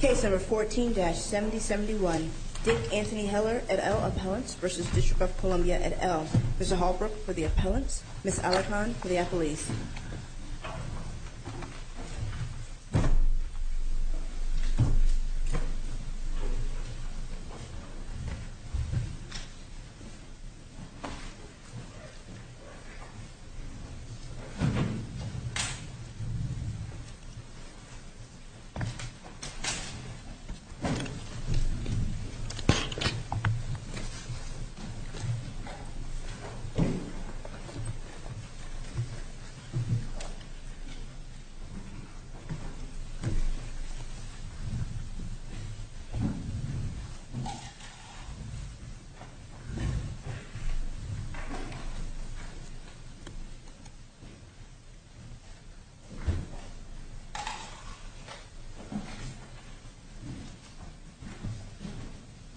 Case No. 14-7071. Dick Anthony Heller, et al. Appellant v. District of Columbia, et al. Mr. Holbrook for the Appellant, Ms. Allaphan for the Affiliate. Mr. Holbrook for the Appellant, Ms.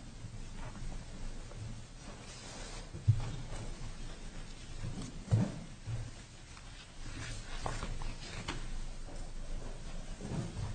Allaphan for the Affiliate. Mr. Holbrook for the Appellant, Ms. Allaphan for the Affiliate.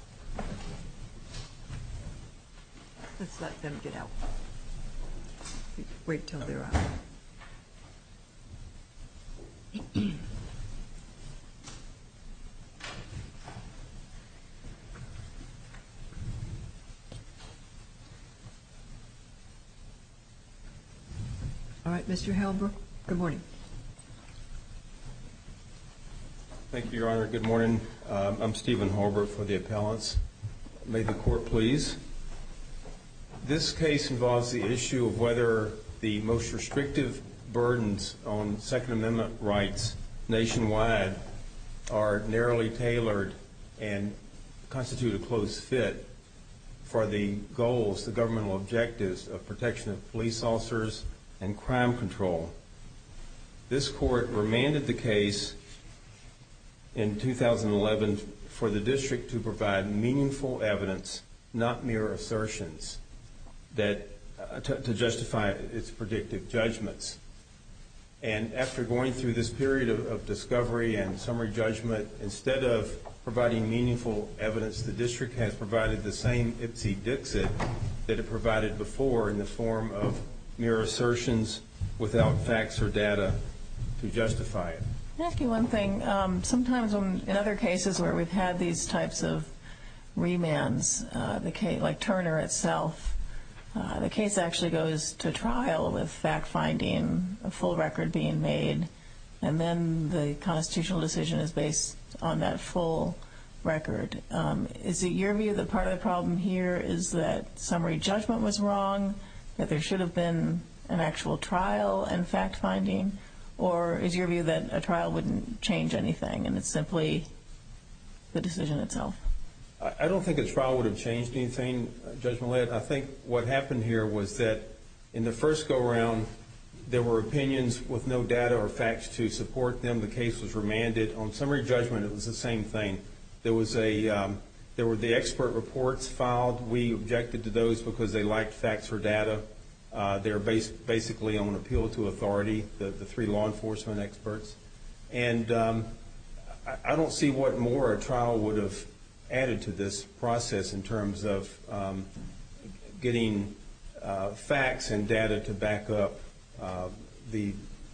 All right, Mr. Holbrook, good morning. Thank you, Your Honor. Good morning. I'm Stephen Holbrook for the Appellant. May the Court please. This case involves the issue of whether the most restrictive burdens on Second Amendment rights nationwide are narrowly tailored and constitute a close fit for the goals, the governmental objectives, of protection of police officers and crime control. This Court remanded the case in 2011 for the District to provide meaningful evidence, not mere assertions, to justify its predictive judgments. And after going through this period of discovery and summary judgment, instead of providing meaningful evidence, the District has provided the same ipsy-dixit that it provided before in the form of mere assertions without facts or data to justify it. Can I ask you one thing? Sometimes in other cases where we've had these types of remands, like Turner itself, the case actually goes to trial with fact-finding, a full record being made, and then the constitutional decision is based on that full record. Is it your view that part of the problem here is that summary judgment was wrong, that there should have been an actual trial and fact-finding, or is your view that a trial wouldn't change anything and it's simply the decision itself? I don't think a trial would have changed anything, Judge Millett. I think what happened here was that in the first go-around, there were opinions with no data or facts to support them. The case was remanded. On summary judgment, it was the same thing. There were the expert reports filed. We objected to those because they lacked facts or data. They're basically on appeal to authority, the three law enforcement experts. I don't see what more a trial would have added to this process in terms of getting facts and data to back up the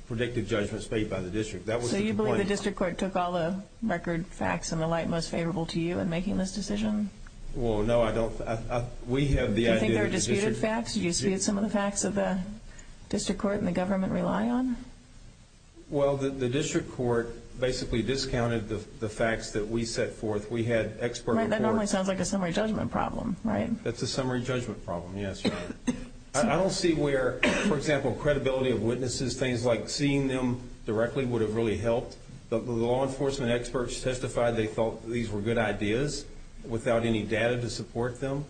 predictive judgment stated by the district. So you believe the district court took all the record, facts, and the like most favorable to you in making this decision? Well, no, I don't. Do you think there are disputed facts? Do you dispute some of the facts that the district court and the government rely on? Well, the district court basically discounted the facts that we set forth. We had expert reports. That normally sounds like a summary judgment problem, right? That's a summary judgment problem, yes. I don't see where, for example, credibility of witnesses, things like seeing them directly would have really helped. The law enforcement experts testified they thought these were good ideas without any data to support them,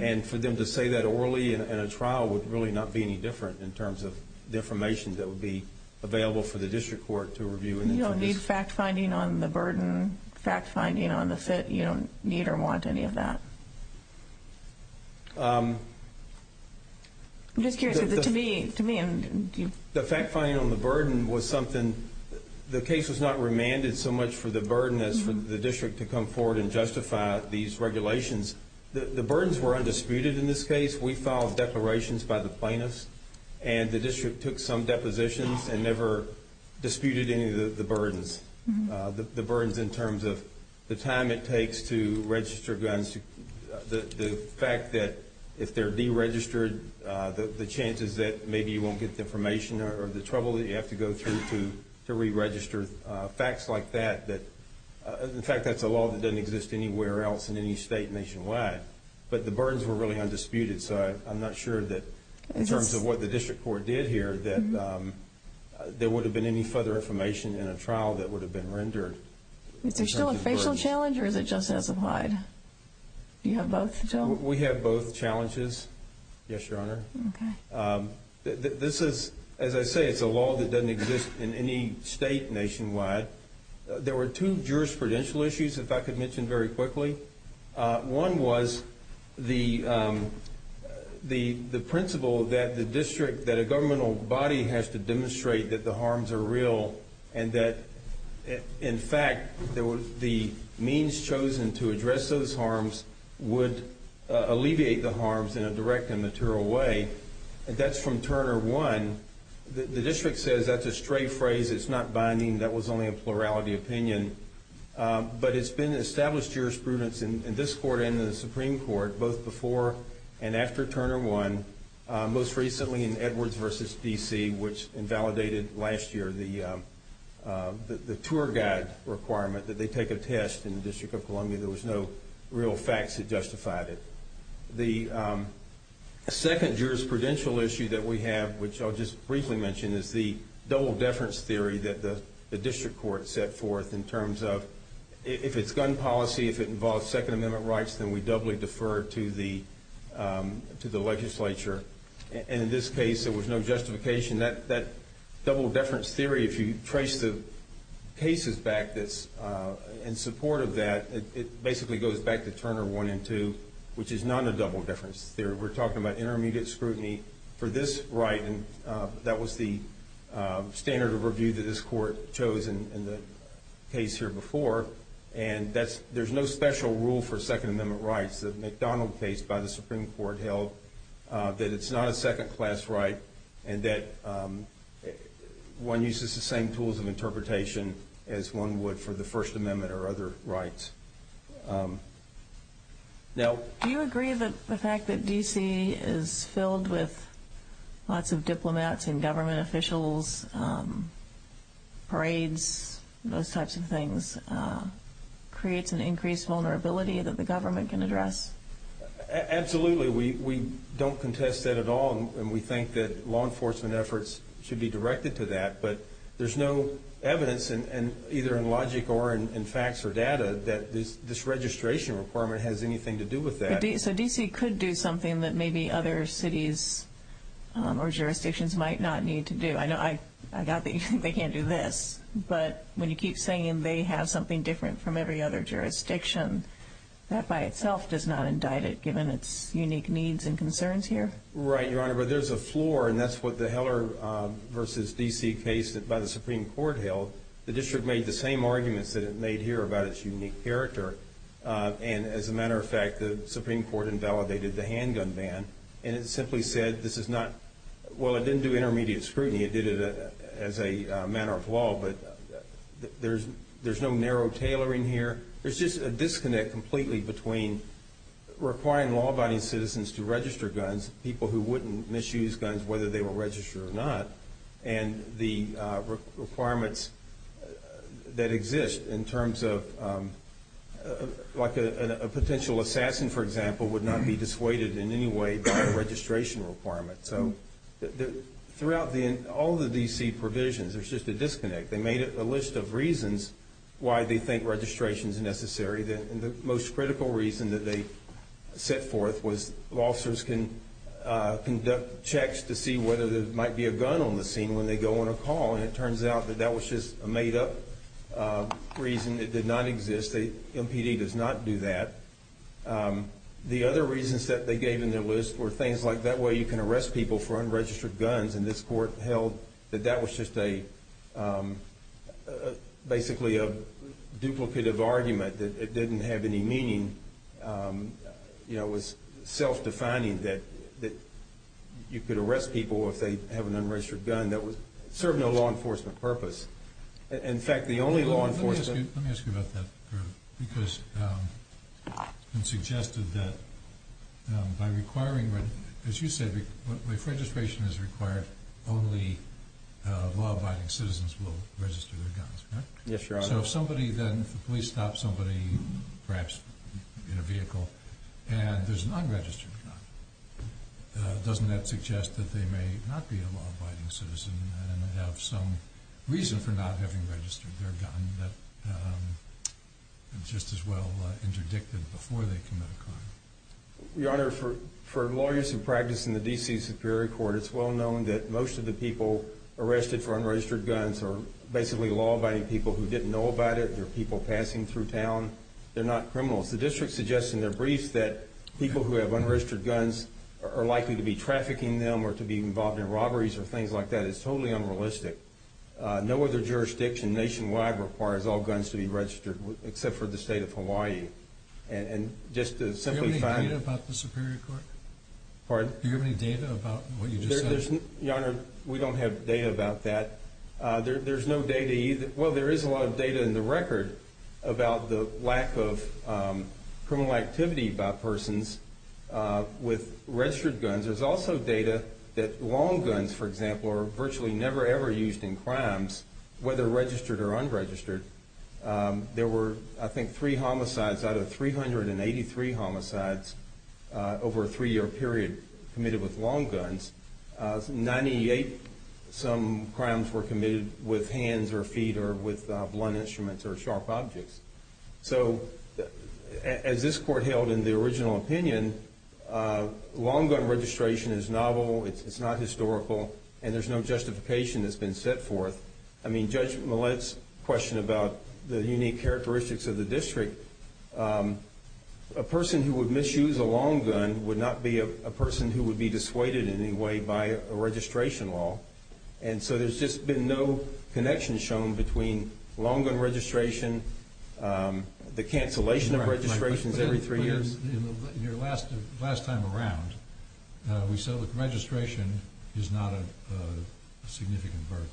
and for them to say that orally in a trial would really not be any different in terms of the information that would be available for the district court to review. You don't need fact-finding on the burden, fact-finding on the fit? You don't need or want any of that? The fact-finding on the burden was something, the case was not remanded so much for the burden as for the district to come forward and justify these regulations. The burdens were undisputed in this case. We filed declarations by the plaintiffs, and the district took some depositions and never disputed any of the burdens, the burdens in terms of the time it takes to register guns, the fact that if they're deregistered, the chances that maybe you won't get the information or the trouble that you have to go through to re-register, facts like that. In fact, that's a law that doesn't exist anywhere else in any state nationwide. But the burdens were really undisputed, so I'm not sure that in terms of what the district court did here, that there would have been any further information in a trial that would have been rendered. Is there still a facial challenge or is it just as applied? Do you have both? We have both challenges, yes, Your Honor. This is, as I say, it's a law that doesn't exist in any state nationwide. There were two jurisprudential issues, if I could mention very quickly. One was the principle that the district, that a governmental body has to demonstrate that the harms are real and that, in fact, the means chosen to address those harms would alleviate the harms in a direct and material way. That's from Turner 1. The district says that's a stray phrase. It's not binding. That was only a plurality opinion. But it's been established jurisprudence in this court and the Supreme Court both before and after Turner 1, most recently in Edwards v. D.C., which invalidated last year the tour guide requirement that they take a test in the District of Columbia. There was no real facts that justified it. The second jurisprudential issue that we have, which I'll just briefly mention, is the double-deference theory that the district court set forth in terms of if it's gun policy, if it involves Second Amendment rights, then we doubly defer to the legislature. In this case, there was no justification. That double-deference theory, if you trace the cases back in support of that, it basically goes back to Turner 1 and 2, which is not a double-deference theory. We're talking about intermediate scrutiny for this right, and that was the standard of review that this court chose in the case here before. And there's no special rule for Second Amendment rights that McDonald's case by the Supreme Court held that it's not a second-class right and that one uses the same tools of interpretation as one would for the First Amendment or other rights. Do you agree that the fact that D.C. is filled with lots of diplomats and government officials, parades, those types of things, creates an increased vulnerability that the government can address? Absolutely. We don't contest that at all, and we think that law enforcement efforts should be directed to that. But there's no evidence, either in logic or in facts or data, that this registration requirement has anything to do with that. So D.C. could do something that maybe other cities or jurisdictions might not need to do. I know I got that you think they can't do this, but when you keep saying they have something different from every other jurisdiction, that by itself does not indict it, given its unique needs and concerns here. Right, Your Honor, but there's a floor, and that's what the Heller v. D.C. case by the Supreme Court held. The district made the same arguments that it made here about its unique character, and as a matter of fact, the Supreme Court invalidated the handgun ban, and it simply said this is not – well, it didn't do intermediate scrutiny. It did it as a matter of law, but there's no narrow tailoring here. There's just a disconnect completely between requiring law-abiding citizens to register guns, people who wouldn't misuse guns whether they were registered or not, and the requirements that exist in terms of like a potential assassin, for example, would not be dissuaded in any way by registration requirements. So throughout all the D.C. provisions, there's just a disconnect. They made a list of reasons why they think registration is necessary, and the most critical reason that they set forth was officers can conduct checks to see whether there might be a gun on the scene when they go on a call, and it turns out that that was just a made-up reason. It did not exist. MPD does not do that. The other reasons that they gave in their list were things like that way you can arrest people for unregistered guns, and this court held that that was just basically a duplicative argument that it didn't have any meaning. You know, it was self-defining that you could arrest people if they have an unregistered gun. That was certainly a law enforcement purpose. In fact, the only law enforcement— Let me ask you about that, because it's been suggested that by requiring— as you said, if registration is required, only law-abiding citizens will register their guns, correct? Yes, Your Honor. So if somebody then—the police stop somebody, perhaps in a vehicle, and there's an unregistered gun, doesn't that suggest that they may not be a law-abiding citizen and have some reason for not having registered their gun that just as well interdict them before they commit a crime? Your Honor, for law-abiding practice in the D.C. Superior Court, it's well known that most of the people arrested for unregistered guns are basically law-abiding people who didn't know about it. They're people passing through town. They're not criminals. The district suggests in their briefs that people who have unregistered guns are likely to be trafficking them or to be involved in robberies or things like that. It's totally unrealistic. No other jurisdiction nationwide requires all guns to be registered except for the state of Hawaii. And just to simply— Do you have any data about the Superior Court? Pardon? Do you have any data about what you just said? Your Honor, we don't have data about that. There's no data either— Well, there is a lot of data in the record about the lack of criminal activity by persons with registered guns. There's also data that long guns, for example, are virtually never, ever used in crimes, whether registered or unregistered. There were, I think, three homicides out of 383 homicides over a three-year period committed with long guns. In 98, some crimes were committed with hands or feet or with blunt instruments or sharp objects. So as this Court held in the original opinion, long gun registration is novel. It's not historical, and there's no justification that's been set forth. I mean, Judge Millett's question about the unique characteristics of the district, a person who would misuse a long gun would not be a person who would be dissuaded in any way by a registration law. And so there's just been no connection shown between long gun registration, the cancellation of registrations every three years— Your Honor, in your last time around, we said that registration is not a significant burden,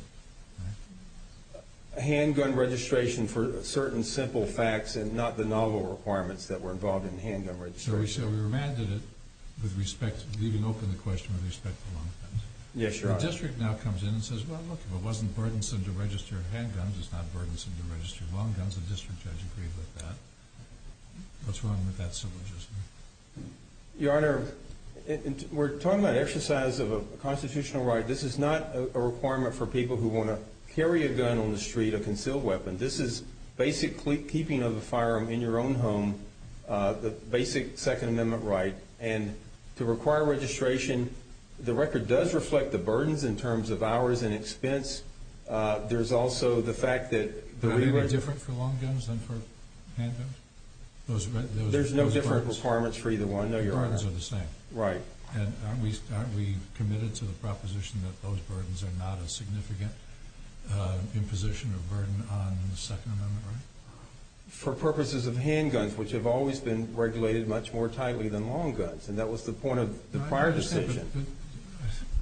right? A handgun registration for certain simple facts and not the novel requirements that were involved in handgun registration. So we said we were mad that it would leave an open question with respect to long guns. Yes, Your Honor. The district now comes in and says, well, look, if it wasn't burdensome to register handguns, it's not burdensome to register long guns. The district's educated on that. What's wrong with that syllogism? Your Honor, we're talking about exercise of a constitutional right. This is not a requirement for people who want to carry a gun on the street, a concealed weapon. This is basic keeping of a firearm in your own home, the basic Second Amendment right. And to require registration, the record does reflect the burdens in terms of hours and expense. There's also the fact that— Are there different for long guns than for handguns? There's no different requirements for either one, Your Honor. The burdens are the same. Right. And aren't we committed to the proposition that those burdens are not a significant imposition of burden on the Second Amendment right? For purposes of handguns, which have always been regulated much more tightly than long guns, and that was the point of the prior decision.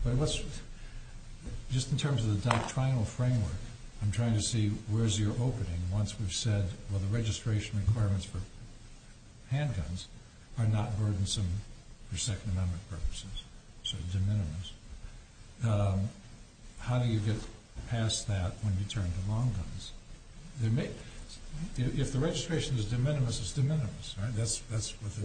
But what's—just in terms of the doctrinal framework, I'm trying to see where's your opening where the registration requirements for handguns are not burdensome for Second Amendment purposes. So it's de minimis. How do you get past that when you turn to long guns? If the registration is de minimis, it's de minimis.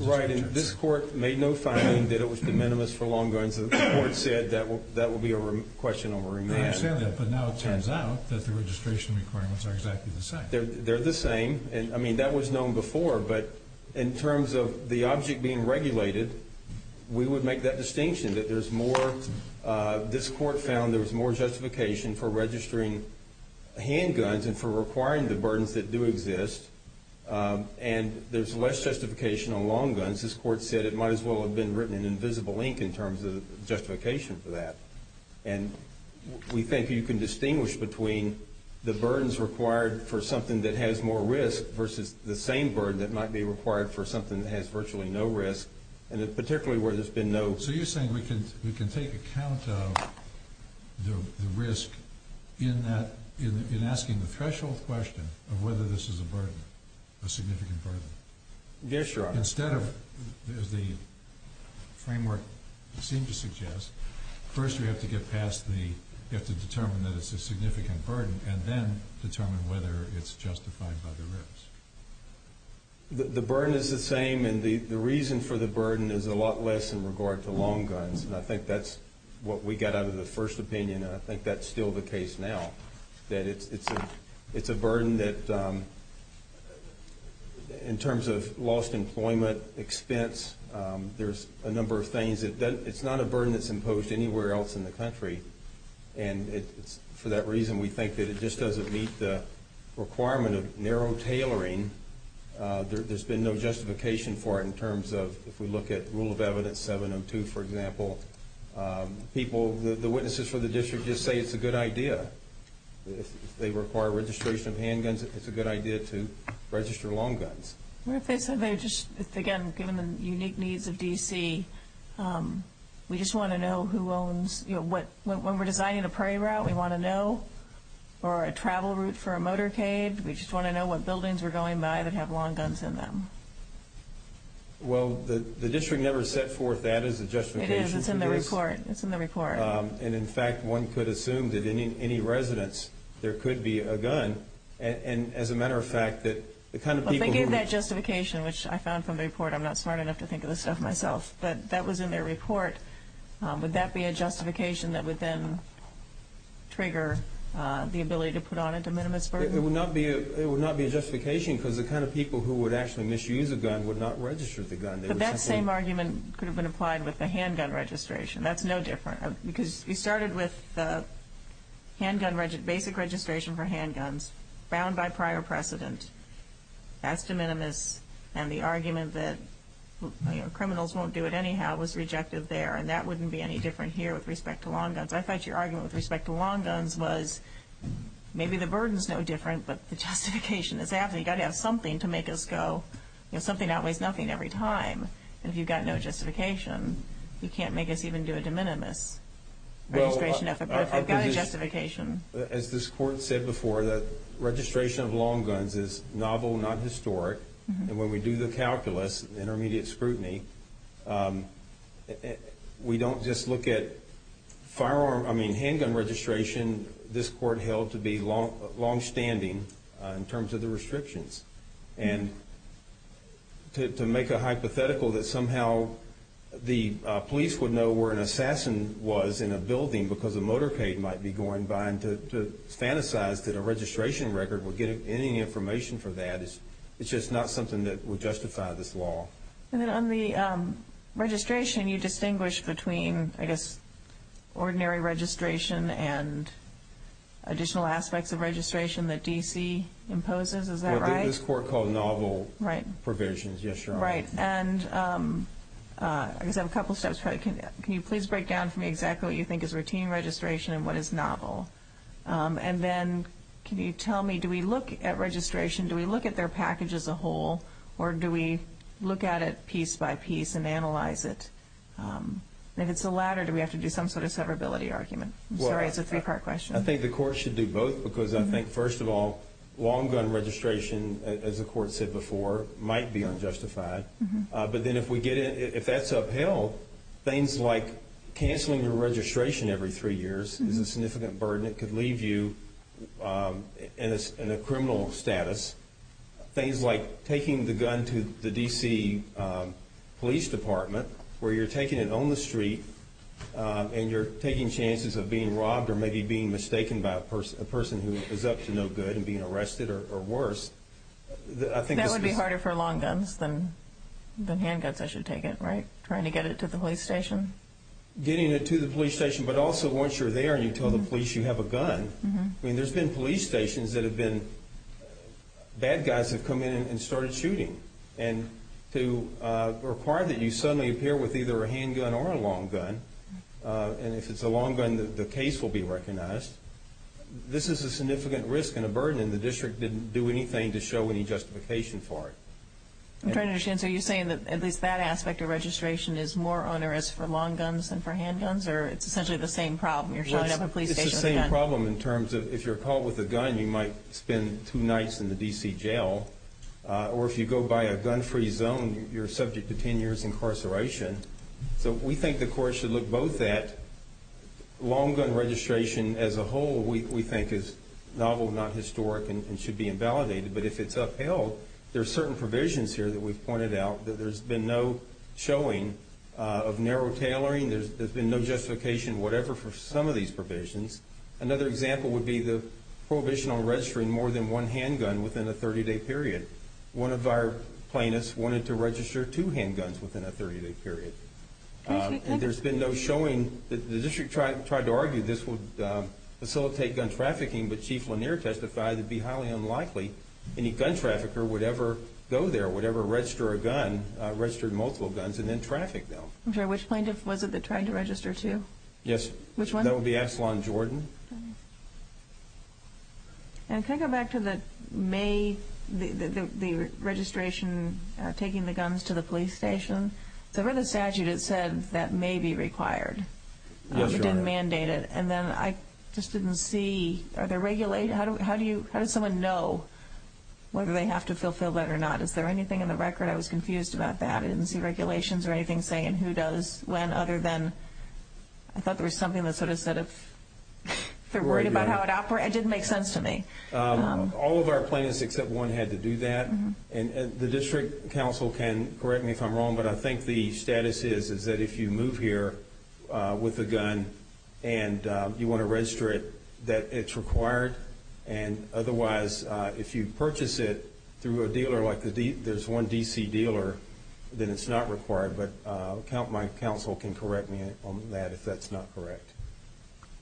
Right, and this Court made no finding that it was de minimis for long guns. The Court said that will be a question over remand. I understand that, but now it turns out that the registration requirements are exactly the same. They're the same. I mean, that was known before, but in terms of the object being regulated, we would make that distinction that there's more—this Court found there was more justification for registering handguns and for requiring the burdens that do exist, and there's less justification on long guns. This Court said it might as well have been written in invisible ink in terms of justification for that. And we think you can distinguish between the burdens required for something that has more risk versus the same burden that might be required for something that has virtually no risk, and particularly where there's been no— So you're saying we can take account of the risk in that—in asking the threshold question of whether this is a burden, a significant burden. Yes, Your Honor. Instead of—as the framework seems to suggest, first we have to get past the— we have to determine that it's a significant burden and then determine whether it's justified by the risk. The burden is the same, and the reason for the burden is a lot less in regard to long guns, and I think that's what we got out of the first opinion, and I think that's still the case now, that it's a burden that, in terms of lost employment, expense, there's a number of things. It's not a burden that's imposed anywhere else in the country, and for that reason we think that it just doesn't meet the requirement of narrow tailoring. There's been no justification for it in terms of, if we look at Rule of Evidence 702, for example, people—the witnesses for the district just say it's a good idea. If they require registration of handguns, it's a good idea to register long guns. Again, given the unique needs of D.C., we just want to know who owns— when we're designing a prairie route, we want to know, or a travel route for a motorcade, we just want to know what buildings are going by that have long guns in them. Well, the district never set forth that as a justification. It is. It's in the report. It's in the report. And, in fact, one could assume that in any residence there could be a gun, and, as a matter of fact, that the kind of people who— Well, they gave that justification, which I found from the report. I'm not smart enough to think of this stuff myself, but that was in their report. Would that be a justification that would then trigger the ability to put on a de minimis burden? It would not be a justification, because the kind of people who would actually misuse a gun would not register the gun. But that same argument could have been applied with the handgun registration. That's no different, because we started with basic registration for handguns, bound by prior precedence, as de minimis, and the argument that criminals won't do it anyhow was rejected there, and that wouldn't be any different here with respect to long guns. I thought your argument with respect to long guns was maybe the burden is no different, but the justification is that we've got to have something to make us go. There's something that weighs nothing every time. If you've got no justification, you can't make us even do a de minimis. I've got a justification. As this court said before, the registration of long guns is novel, not historic, and when we do the calculus, intermediate scrutiny, we don't just look at firearm, I mean, handgun registration. This court held to be longstanding in terms of the restrictions, and to make a hypothetical that somehow the police would know where an assassin was in a building because a motorcade might be going by, and to fantasize that a registration record would give any information for that is just not something that would justify this law. And then on the registration, you distinguish between, I guess, ordinary registration and additional aspects of registration that D.C. imposes. Is that right? This court called novel provisions. Yes, Your Honor. Right, and I guess I have a couple of steps. Can you please break down for me exactly what you think is routine registration and what is novel? And then can you tell me, do we look at registration, do we look at their package as a whole, or do we look at it piece by piece and analyze it? If it's the latter, do we have to do some sort of severability argument? I'm sorry, it's a three-part question. I think the court should do both because I think, first of all, long gun registration, as the court said before, might be unjustified. But then if that's upheld, things like canceling your registration every three years is a significant burden that could leave you in a criminal status. Things like taking the gun to the D.C. Police Department where you're taking it on the street and you're taking chances of being robbed or maybe being mistaken by a person who is up to no good and being arrested or worse. That would be harder for long guns than handguns, I should take it, right, trying to get it to the police station? Getting it to the police station, but also once you're there and you tell the police you have a gun. I mean, there's been police stations that have been bad guys who have come in and started shooting. And to require that you suddenly appear with either a handgun or a long gun, and if it's a long gun, the case will be recognized. This is a significant risk and a burden, and the district didn't do anything to show any justification for it. I'm trying to understand. So you're saying that at least that aspect of registration is more on a risk for long guns than for handguns, or it's essentially the same problem? You're showing up at a police station with a gun. It's the same problem in terms of if you're caught with a gun, you might spend two nights in the D.C. jail, or if you go by a gun-free zone, you're subject to 10 years incarceration. So we think the court should look both at long gun registration as a whole, we think is novel, not historic, and should be invalidated. But if it's upheld, there are certain provisions here that we've pointed out that there's been no showing of narrow tailoring, there's been no justification whatever for some of these provisions. Another example would be the prohibition on registering more than one handgun within a 30-day period. One of our plaintiffs wanted to register two handguns within a 30-day period. There's been no showing. The district tried to argue this would facilitate gun trafficking, but Chief Lanier testified it would be highly unlikely any gun trafficker would ever go there, would ever register a gun, register multiple guns, and then traffic them. Which plaintiff was it that tried to register two? Yes. Which one? That would be Aslan Jordan. Can I go back to the registration, taking the guns to the police station? There was a statute that said that may be required. It didn't mandate it. And then I just didn't see, are there regulations? How does someone know whether they have to fulfill that or not? Is there anything in the record? I was confused about that. I didn't see regulations or anything saying who does when other than I thought there was something that sort of said it's they're worried about how it operates. It didn't make sense to me. All of our plaintiffs except one had to do that. And the district counsel can correct me if I'm wrong, but I think the status is that if you move here with a gun and you want to register it, that it's required. And otherwise, if you purchase it through a dealer like there's one D.C. dealer, then it's not required. But my counsel can correct me on that if that's not correct.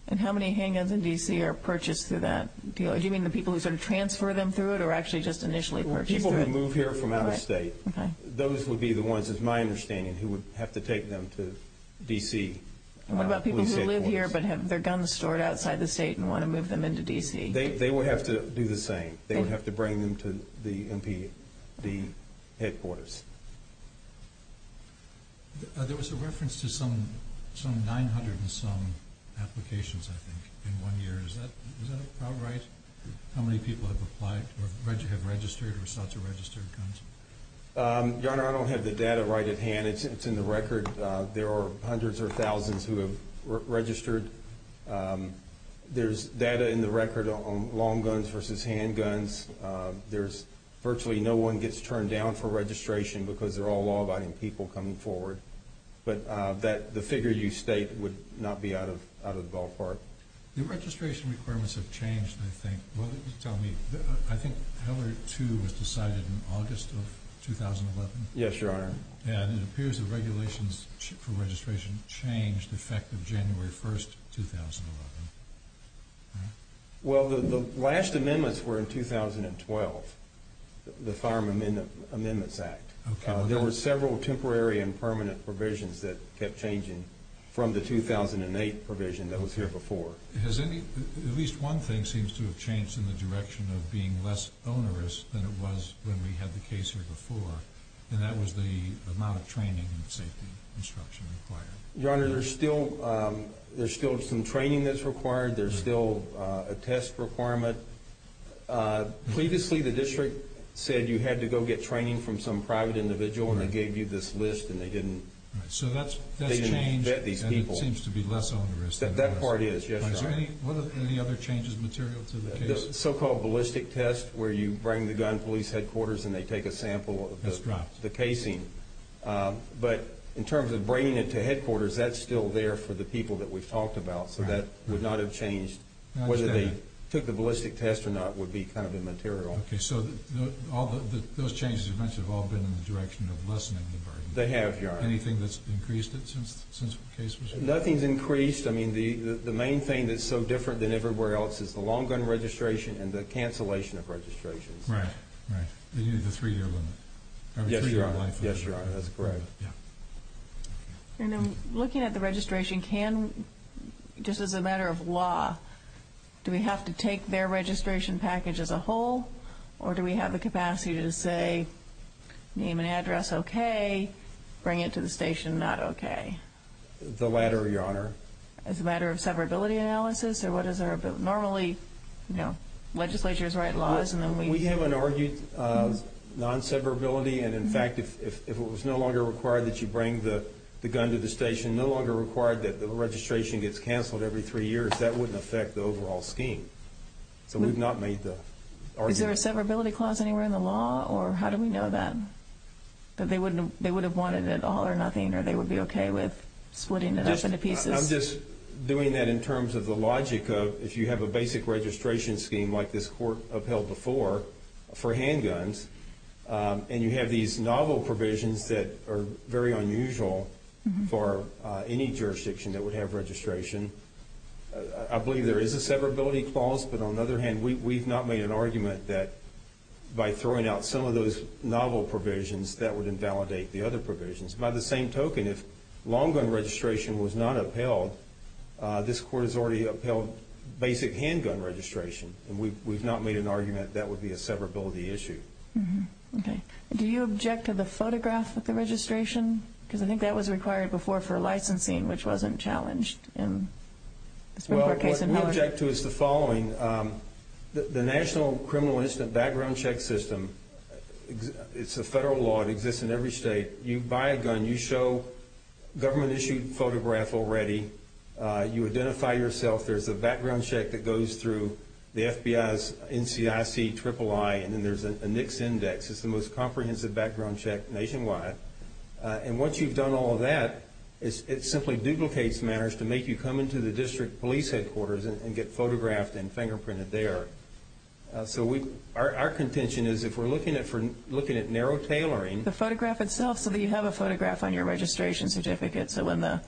And how many handguns in D.C. are purchased through that? Do you mean the people who sort of transfer them through it or actually just initially purchased them? People who move here from out of state. Those would be the ones, it's my understanding, who would have to take them to D.C. What about people who live here but have their guns stored outside the state and want to move them into D.C.? They would have to do the same. They would have to bring them to the headquarters. There was a reference to some 900 and some applications, I think, in one year. Is that right? How many people have registered or sought to register guns? John, I don't have the data right at hand. It's in the record. There are hundreds or thousands who have registered. There's data in the record on long guns versus handguns. Virtually no one gets turned down for registration because they're all law-abiding people coming forward. But the figures you state would not be out of the ballpark. The registration requirements have changed, I think. Tell me, I think Hillary 2 was decided in August of 2011? Yes, Your Honor. And it appears the regulations for registration changed effective January 1, 2011. Well, the last amendments were in 2012, the Farm Amendments Act. There were several temporary and permanent provisions that kept changing from the 2008 provision that was here before. At least one thing seems to have changed in the direction of being less onerous than it was when we had the case here before, and that was the amount of training and safety instruction required. Your Honor, there's still some training that's required. There's still a test requirement. Previously the district said you had to go get training from some private individual, and they gave you this list, and they didn't get these people. That seems to be less onerous. That part is, Your Honor. Any other changes material to the case? This so-called ballistic test where you bring the gun police headquarters and they take a sample of the casing. But in terms of bringing it to headquarters, that's still there for the people that we've talked about, so that would not have changed. Whether they took the ballistic test or not would be kind of immaterial. Okay. So those changes eventually have all been in the direction of lessening the burden. They have, Your Honor. Anything that's increased it since the case was here? Nothing's increased. I mean, the main thing that's so different than everywhere else is the long gun registration and the cancellation of registration. Right. Right. You mean the three-year limit? Yes, Your Honor. Yes, Your Honor. That's correct. And then looking at the registration, can, just as a matter of law, do we have to take their registration package as a whole, or do we have the capacity to say, name an address, okay, bring it to the station, not okay? The latter, Your Honor. As a matter of severability analysis, or what is there? Normally, you know, legislatures write laws and then we... We haven't argued non-severability, and, in fact, if it was no longer required that you bring the gun to the station, no longer required that the registration gets canceled every three years, that wouldn't affect the overall scheme. So we've not made the argument. Is there a severability clause anywhere in the law, or how do we know that? That they would have wanted it all or nothing, or they would be okay with splitting it up into pieces? I'm just doing that in terms of the logic of if you have a basic registration scheme like this court upheld before for handguns, and you have these novel provisions that are very unusual for any jurisdiction that would have registration, I believe there is a severability clause, but on the other hand, we've not made an argument that by throwing out some of those novel provisions, that would invalidate the other provisions. By the same token, if long gun registration was not upheld, this court has already upheld basic handgun registration, and we've not made an argument that that would be a severability issue. Okay. Do you object to the photograph with the registration? Because I think that was required before for licensing, which wasn't challenged. Well, what we object to is the following. The National Criminal Instance Background Check System, it's a federal law that exists in every state. You buy a gun. You show a government-issued photograph already. You identify yourself. There's a background check that goes through the FBI's NCIC III, and then there's a NICS index. It's the most comprehensive background check nationwide. And once you've done all of that, it simply duplicates matters to make you come into the district police headquarters and get photographed and fingerprinted there. So our contention is if we're looking at narrow tailoring. The photograph itself, so that you have a photograph on your registration certificate, so when the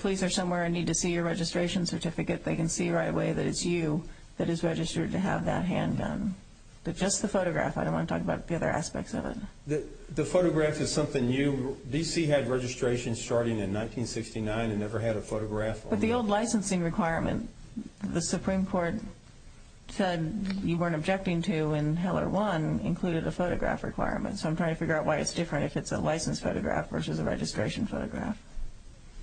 police are somewhere and need to see your registration certificate, they can see right away that it's you that is registered to have that handgun. But just the photograph. I don't want to talk about the other aspects of it. The photograph is something new. D.C. had registration starting in 1969 and never had a photograph. But the old licensing requirement, the Supreme Court said you weren't objecting to when Heller 1 included the photograph requirement. So I'm trying to figure out why it's different if it's a licensed photograph versus a registration photograph.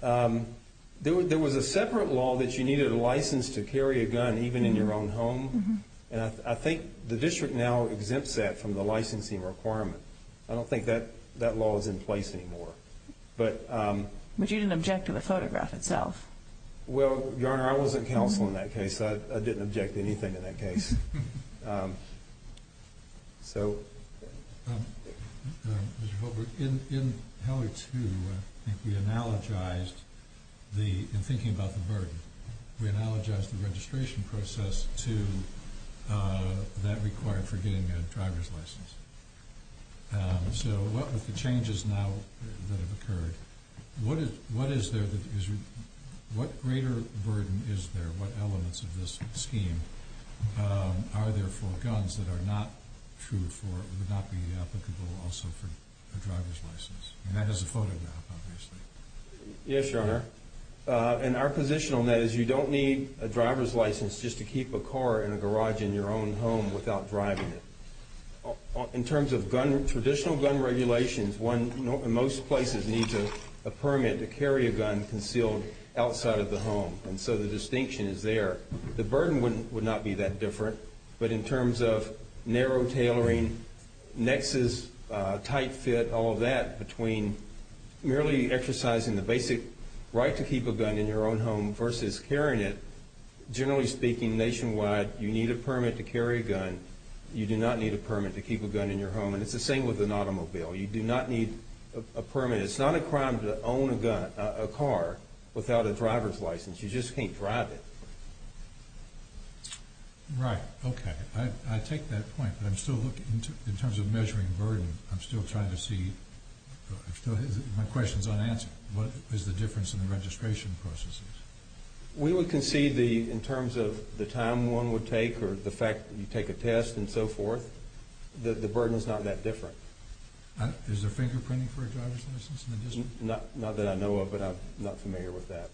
There was a separate law that you needed a license to carry a gun even in your own home. And I think the district now exempts that from the licensing requirement. I don't think that law is in place anymore. But you didn't object to the photograph itself. Well, Your Honor, I wasn't counsel in that case. I didn't object to anything in that case. In Heller 2, we analogized, in thinking about the burden, we analogized the registration process to that required for getting a driver's license. So what were the changes now that have occurred? What greater burden is there, what elements of this scheme, are there for guns that are not true for the backing it up, but also for a driver's license? And that is a photograph, obviously. Yes, Your Honor. And our position on that is you don't need a driver's license just to keep a car in a garage in your own home without driving it. In terms of traditional gun regulations, most places need a permit to carry a gun concealed outside of the home. And so the distinction is there. The burden would not be that different. But in terms of narrow tailoring, nexus, tight fit, all of that, between merely exercising the basic right to keep a gun in your own home versus carrying it, generally speaking nationwide, you need a permit to carry a gun. And you do not need a permit to keep a gun in your home. And it's the same with an automobile. You do not need a permit. It's not a crime to own a car without a driver's license. You just can't drive it. Right, okay. I take that point, but I'm still looking in terms of measuring burden. I'm still trying to see. My question is unanswered. What is the difference in the registration processes? We would concede in terms of the time one would take or the fact that you take a test and so forth, that the burden is not that different. Is there fingerprinting for a driver's license? Not that I know of, but I'm not familiar with that.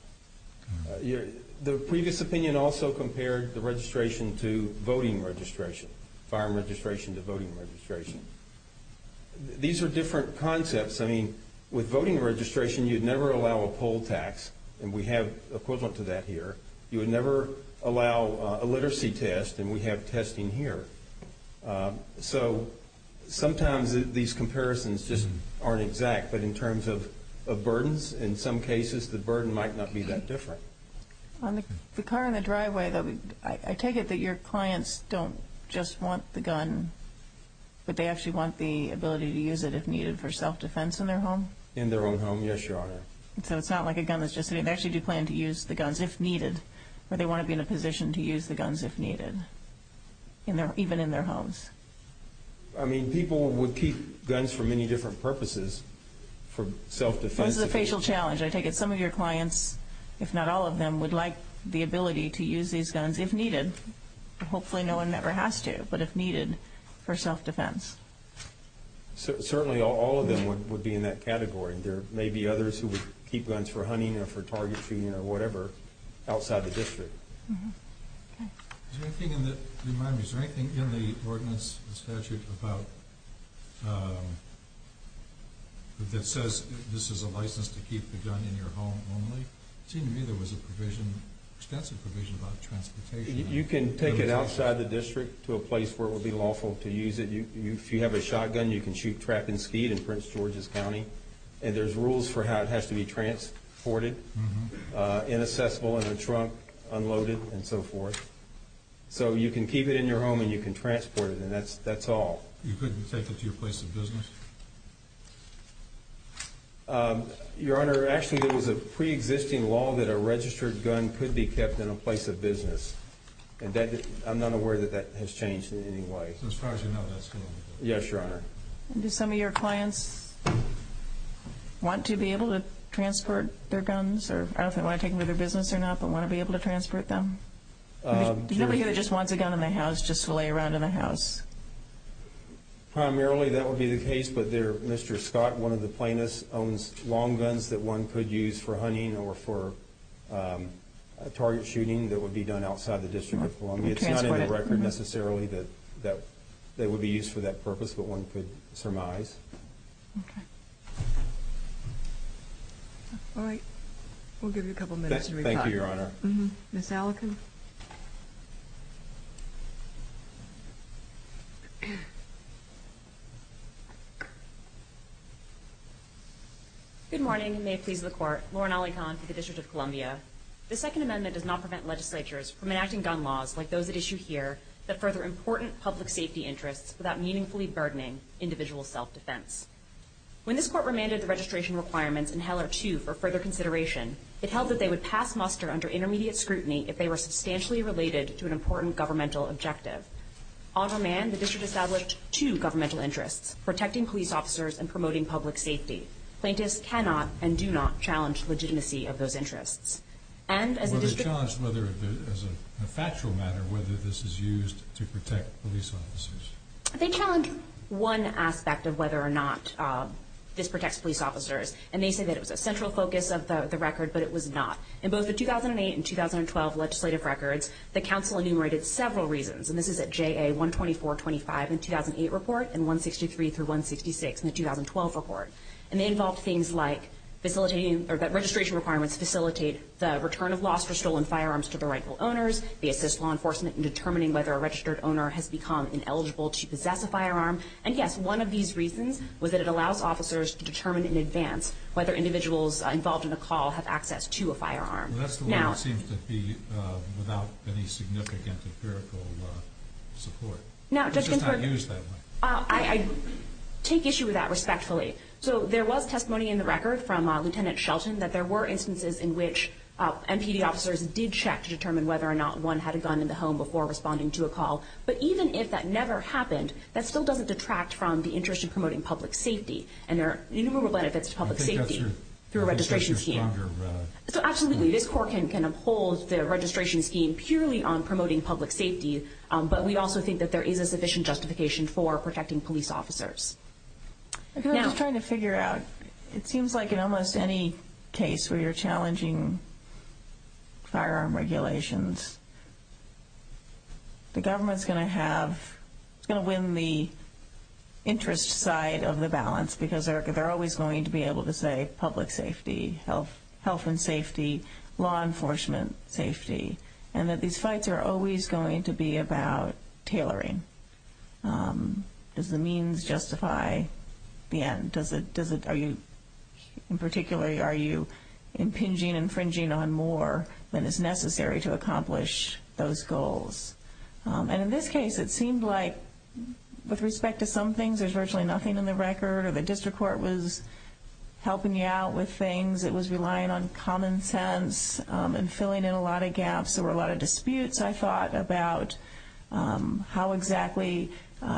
The previous opinion also compared the registration to voting registration, firearm registration to voting registration. These are different concepts. With voting registration, you'd never allow a poll tax. And we have equivalent to that here. You would never allow a literacy test, and we have testing here. So sometimes these comparisons just aren't exact, but in terms of burdens, in some cases the burden might not be that different. The car in the driveway, though, I take it that your clients don't just want the gun, but they actually want the ability to use it if needed for self-defense in their home? In their own home, yes, Your Honor. So it's not like a gun is just an invention. You plan to use the guns if needed, but they want to be in a position to use the guns if needed, even in their homes. I mean, people would keep guns for many different purposes for self-defense. This is a facial challenge. I take it some of your clients, if not all of them, would like the ability to use these guns if needed. Hopefully no one ever has to, but if needed for self-defense. Certainly all of them would be in that category. There may be others who would keep guns for hunting or for target shooting or whatever outside the district. Is there anything in the ordinance or statute that says this is a license to keep the gun in your home only? It seemed to me there was an extensive provision about transportation. You can take it outside the district to a place where it would be lawful to use it. If you have a shotgun, you can shoot, track, and skeet in Prince George's County. And there's rules for how it has to be transported, inaccessible in a trunk, unloaded, and so forth. So you can keep it in your home and you can transport it, and that's all. You couldn't take it to your place of business? Your Honor, actually there was a pre-existing law that a registered gun could be kept in a place of business. I'm not aware that that has changed in any way. Yes, Your Honor. Do some of your clients want to be able to transport their guns? I don't know if they want to take them to their business or not, but want to be able to transport them? Do you ever hear they just want the gun in the house just to lay around in the house? Primarily that would be the case, but Mr. Scott, one of the plaintiffs, owns long guns that one could use for hunting or for target shooting that would be done outside the District of Columbia. It's not in the record necessarily that they would be used for that purpose, but one could surmise. All right. We'll give you a couple minutes. Thank you, Your Honor. Ms. Allikin. Good morning. Lauren Allikin with the District of Columbia. The Second Amendment does not prevent legislatures from enacting gun laws like those that are issued here that further important public safety interests without meaningfully burdening individual self-defense. When this court remanded the registration requirements in Heller 2 for further consideration, it held that they would pass muster under intermediate scrutiny if they were substantially related to an important governmental objective. On demand, the District established two governmental interests, protecting police officers and promoting public safety. Plaintiffs cannot and do not challenge legitimacy of those interests. Or they challenge, as a factual matter, whether this is used to protect police officers. They challenge one aspect of whether or not this protects police officers, and they say that it's a central focus of the record, but it was not. In both the 2008 and 2012 legislative records, the council enumerated several reasons, and this is at JA 12425 in the 2008 report and 163 through 166 in the 2012 report. And they involved things like registration requirements facilitate the return of lost or stolen firearms to the rightful owners, the assistance of law enforcement in determining whether a registered owner has become ineligible to possess a firearm. And, yes, one of these reasons was that it allows officers to determine in advance whether individuals involved in the call have access to a firearm. Well, that's the way it seems to be without any significant deferral of support. Now, Judge Ginsburg, I take issue with that respectfully. So there was testimony in the record from Lieutenant Shelton that there were instances in which MPD officers did check to determine whether or not one had a gun in the home before responding to a call. But even if that never happened, that still doesn't detract from the interest in promoting public safety. And there are innumerable benefits to public safety through a registration scheme. So absolutely, this court can impose the registration scheme purely on promoting public safety, but we also think that there is a sufficient justification for protecting police officers. I'm just trying to figure out, it seems like in almost any case where you're challenging firearm regulations, the government is going to win the interest side of the balance because they're always going to be able to say public safety, health and safety, law enforcement safety, and that these fights are always going to be about tailoring. Does the means justify the end? In particular, are you impinging, infringing on more than is necessary to accomplish those goals? And in this case, it seems like with respect to some things, there's virtually nothing in the record. If a district court was helping you out with things, it was relying on common sense and filling in a lot of gaps. There were a lot of disputes, I thought, about how exactly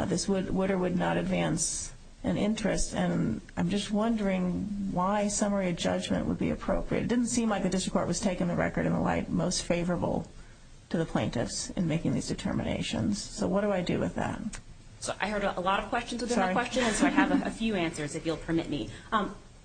this would or would not advance an interest. And I'm just wondering why summary judgment would be appropriate. It didn't seem like the district court was taking the record in the light most favorable to the plaintiffs in making these determinations. So what do I do with that? I heard a lot of questions within the question, so I have a few answers if you'll permit me.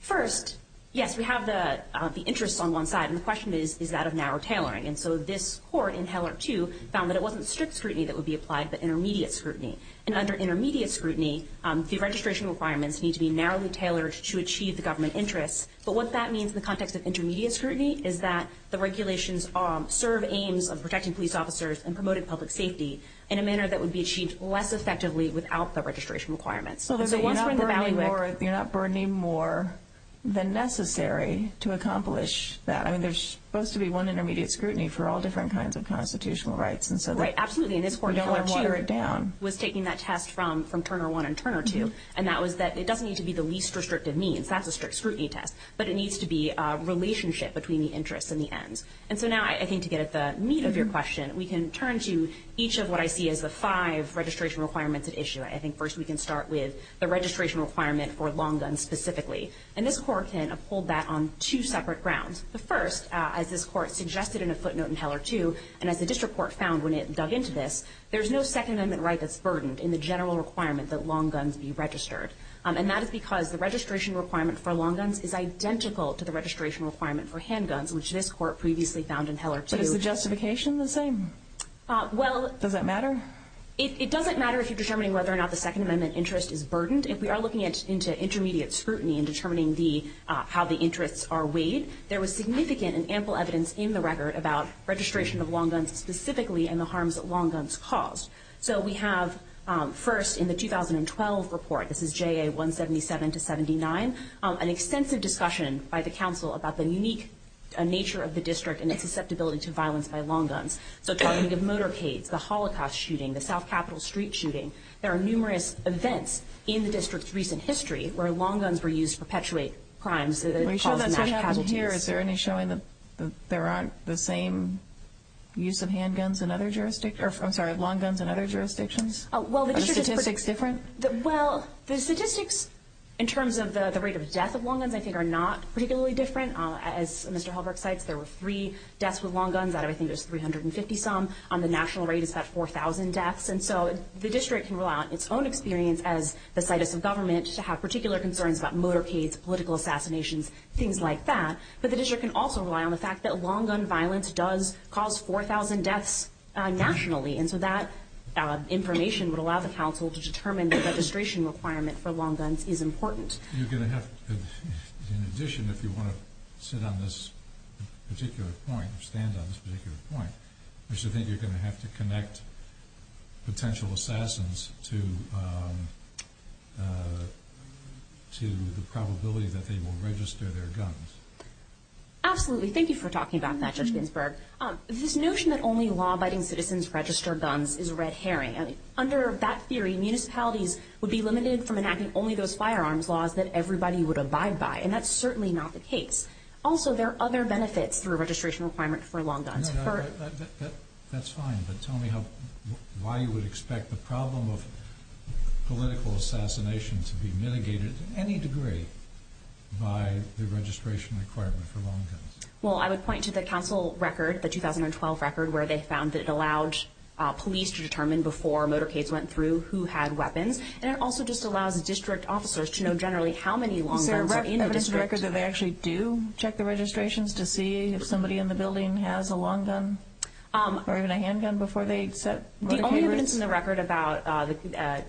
First, yes, we have the interest on one side, and the question is, is that of narrow tailoring? And so this court in Taylor II found that it wasn't strict scrutiny that would be applied, but intermediate scrutiny. And under intermediate scrutiny, the registration requirements need to be narrowly tailored to achieve the government interest. But what that means in the context of intermediate scrutiny is that the regulations serve aims of protecting police officers and promoting public safety in a manner that would be achieved less effectively without the registration requirements. So there's a one-point evaluation. So you're not burdening more than necessary to accomplish that. There's supposed to be one intermediate scrutiny for all different kinds of constitutional rights. Right, absolutely. And this court in Taylor II was taking that test from Turner I and Turner II, and that was that it doesn't need to be the least restrictive means. That's a strict scrutiny test. But it needs to be a relationship between the interest and the end. And so now I think to get at the meat of your question, we can turn to each of what I see as the five registration requirements at issue. I think first we can start with the registration requirement for long guns specifically. And this court can hold that on two separate grounds. The first, as this court suggested in a footnote in Taylor II, and as the district court found when it dug into this, there's no Second Amendment right that's burdened in the general requirement that long guns be registered. And that is because the registration requirement for long guns is identical to the registration requirement for handguns, which this court previously found in Taylor II. But is the justification the same? Does that matter? It doesn't matter if you're determining whether or not the Second Amendment interest is burdened. If we are looking into intermediate scrutiny in determining how the interests are weighed, there was significant and ample evidence in the record about registration of long guns specifically and the harms that long guns cause. So we have first in the 2012 report, this is JA 177 to 79, an extensive discussion by the council about the unique nature of the district and its susceptibility to violence by long guns. So talking of motorcades, the Holocaust shooting, the South Capitol Street shooting, there are numerous events in the district's recent history where long guns were used to perpetuate crimes. Is there any showing that there aren't the same use of handguns in other jurisdictions? I'm sorry, long guns in other jurisdictions? Are the statistics different? Well, the statistics in terms of the rate of death of long guns I think are not particularly different. As Mr. Halberg said, there were three deaths with long guns. I think there's 350 some. The national rate has had 4,000 deaths. And so the district can rely on its own experience as the site of the government to have particular concerns about motorcades, political assassinations, things like that. But the district can also rely on the fact that long gun violence does cause 4,000 deaths nationally. And so that information would allow the council to determine the registration requirement for long guns is important. You're going to have to, in addition, if you want to sit on this particular point, stand on this particular point, which I think you're going to have to connect potential assassins to the probability that they will register their guns. Absolutely. Thank you for talking about that, Judge Ginsburg. This notion that only law-abiding citizens register guns is a red herring. Under that theory, municipalities would be limited from enacting only those firearms laws that everybody would abide by, and that's certainly not the case. Also, there are other benefits to a registration requirement for long guns. That's fine, but tell me why you would expect the problem of political assassinations to be mitigated to any degree by the registration requirement for long guns. Well, I would point to the council record, the 2012 record, where they found that it allowed police to determine before a motorcade went through who had weapons, and it also just allowed district officers to know generally how many long guns were being registered. Is there any evidence in the record that they actually do check the registrations to see if somebody in the building has a long gun or even a handgun before they set motorcade routes? The only evidence in the record about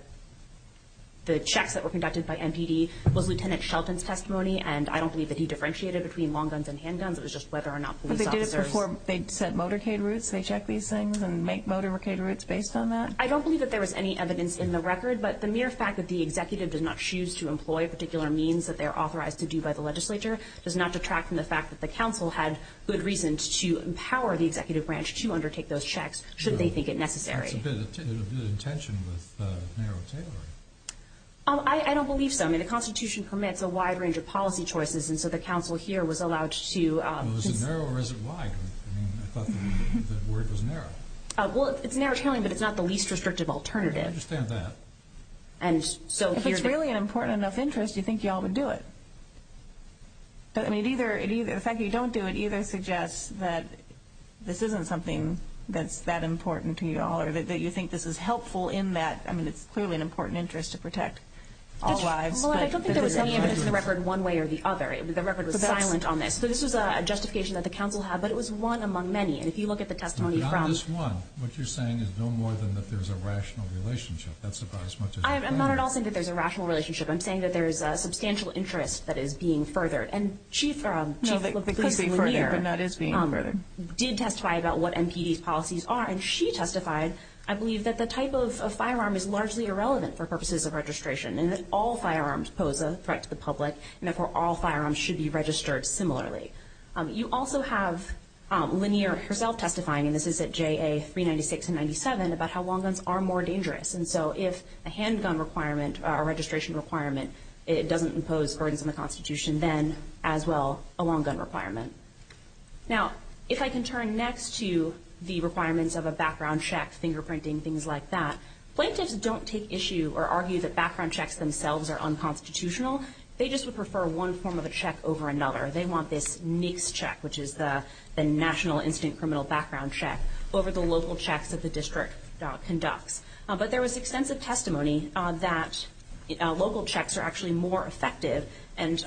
the checks that were conducted by MPD was Lieutenant Shelton's testimony, and I don't believe that he differentiated between long guns and handguns. It was just whether or not police officers were— But they did it before they set motorcade routes? They check these things and make motorcade routes based on that? I don't believe that there was any evidence in the record, but the mere fact that the executive did not choose to employ a particular means that they're authorized to do by the legislature does not detract from the fact that the council had good reasons to empower the executive branch to undertake those checks, should they think it necessary. There's a tension with narrow tailoring. I don't believe so. I mean, the Constitution permits a wide range of policy choices, and so the council here was allowed to— Was it narrow or was it wide? I mean, I thought the word was narrow. Well, it's narrow tailoring, but it's not the least restrictive alternative. I understand that. And so— If it's really an important enough interest, you think you ought to do it. But, I mean, the fact that you don't do it either suggests that this isn't something that's that important to you all or that you think this is helpful in that, I mean, it's clearly an important interest to protect all lives. Well, I don't think they were saying it was in the record one way or the other. The record was silent on this. So this is a justification that the council had, but it was one among many. And if you look at the testimony from— I'm not at all saying that there's a rational relationship. I'm saying that there is a substantial interest that is being furthered. And Chief— No, that could be furthered, and that is being furthered. Did testify about what MPD's policies are, and she testified, I believe, that the type of firearm is largely irrelevant for purposes of registration and that all firearms pose a threat to the public, and therefore all firearms should be registered similarly. You also have linear results testifying, and this is at JA 396 and 97, about how long guns are more dangerous. And so if a handgun requirement or registration requirement doesn't impose burdens on the Constitution, then as well a long gun requirement. Now, if I can turn next to the requirements of a background check, fingerprinting, things like that, plaintiffs don't take issue or argue that background checks themselves are unconstitutional. They just would prefer one form of a check over another. They want this NICS check, which is the National Instinct Criminal Background Check, over the local checks that the district conducts. But there was extensive testimony that local checks are actually more effective, and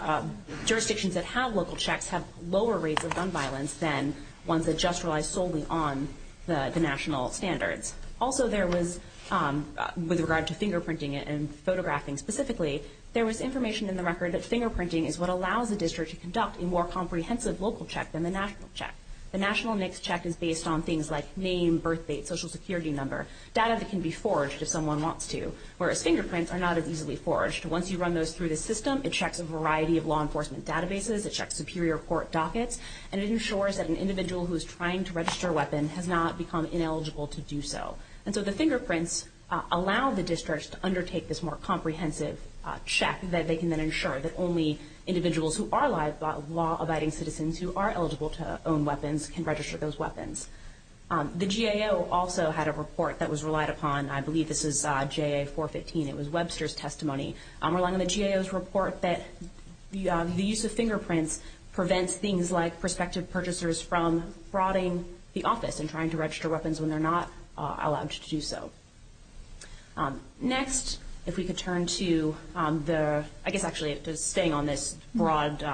jurisdictions that have local checks have lower rates of gun violence than ones that just rely solely on the national standard. Also, there was—with regard to fingerprinting and photographing specifically, there was information in the record that fingerprinting is what allows the district to conduct a more comprehensive local check than the national check. The national NICS check is based on things like name, birthdate, Social Security number, data that can be forged if someone wants to, whereas fingerprints are not as easily forged. Once you run those through the system, it checks a variety of law enforcement databases, it checks superior court dockets, and it ensures that an individual who is trying to register a weapon has not become ineligible to do so. And so the fingerprints allow the districts to undertake this more comprehensive check that they can then ensure that only individuals who are law-abiding citizens who are eligible to own weapons can register those weapons. The GAO also had a report that was relied upon. I believe this is JA-415. It was Webster's testimony. I'm relying on the GAO's report that the use of fingerprints prevents things like prospective purchasers from frauding the office and trying to register weapons when they're not allowed to do so. Next, if we could turn to the – I guess actually it's just staying on this broad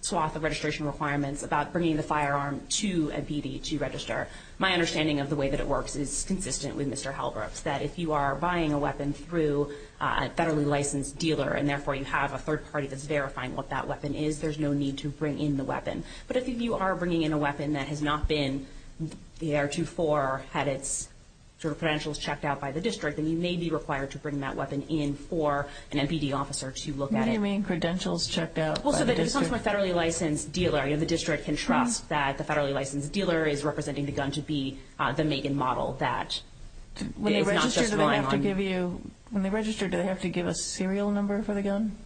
swath of registration requirements about bringing the firearm to a DDT register. My understanding of the way that it works is consistent with Mr. Halbrook's, that if you are buying a weapon through a federally licensed dealer and therefore you have a third party that's verifying what that weapon is, there's no need to bring in the weapon. But if you are bringing in a weapon that has not been – the AR-24 had its credentials checked out by the district, then you may be required to bring that weapon in for an MPD officer to look at it. What do you mean, credentials checked out by the district? Well, if it comes from a federally licensed dealer, the district can trust that the federally licensed dealer is representing the gun to be the Megan model. When they register, do they have to give a serial number for the gun?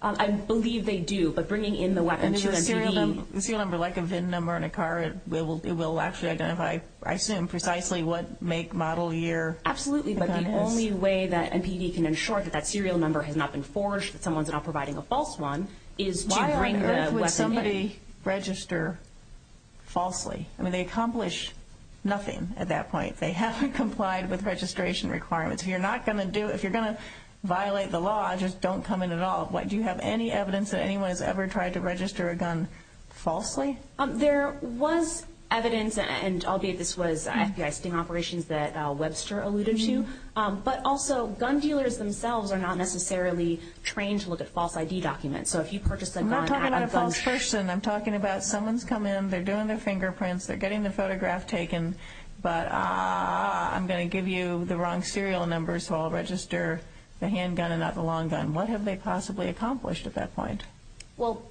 I believe they do. A serial number, like a VIN number on a car, it will actually identify, I assume, precisely what make, model, year. Absolutely. But the only way that MPD can ensure that that serial number has not been forged, that someone's not providing a false one, is to bring the weapon in. Why would somebody register falsely? I mean, they accomplish nothing at that point. They haven't complied with registration requirements. If you're going to violate the law, just don't come in at all. Do you have any evidence that anyone has ever tried to register a gun falsely? There was evidence, and I'll give this to you, I've seen operations that Webster alluded to, but also gun dealers themselves are not necessarily trained to look at false ID documents. So if you purchase a gun at a false… I'm not talking about a false person. I'm talking about someone's come in, they're doing their fingerprints, they're getting their photograph taken, but I'm going to give you the wrong serial number so I'll register the handgun and not the long gun. What have they possibly accomplished at that point? Well,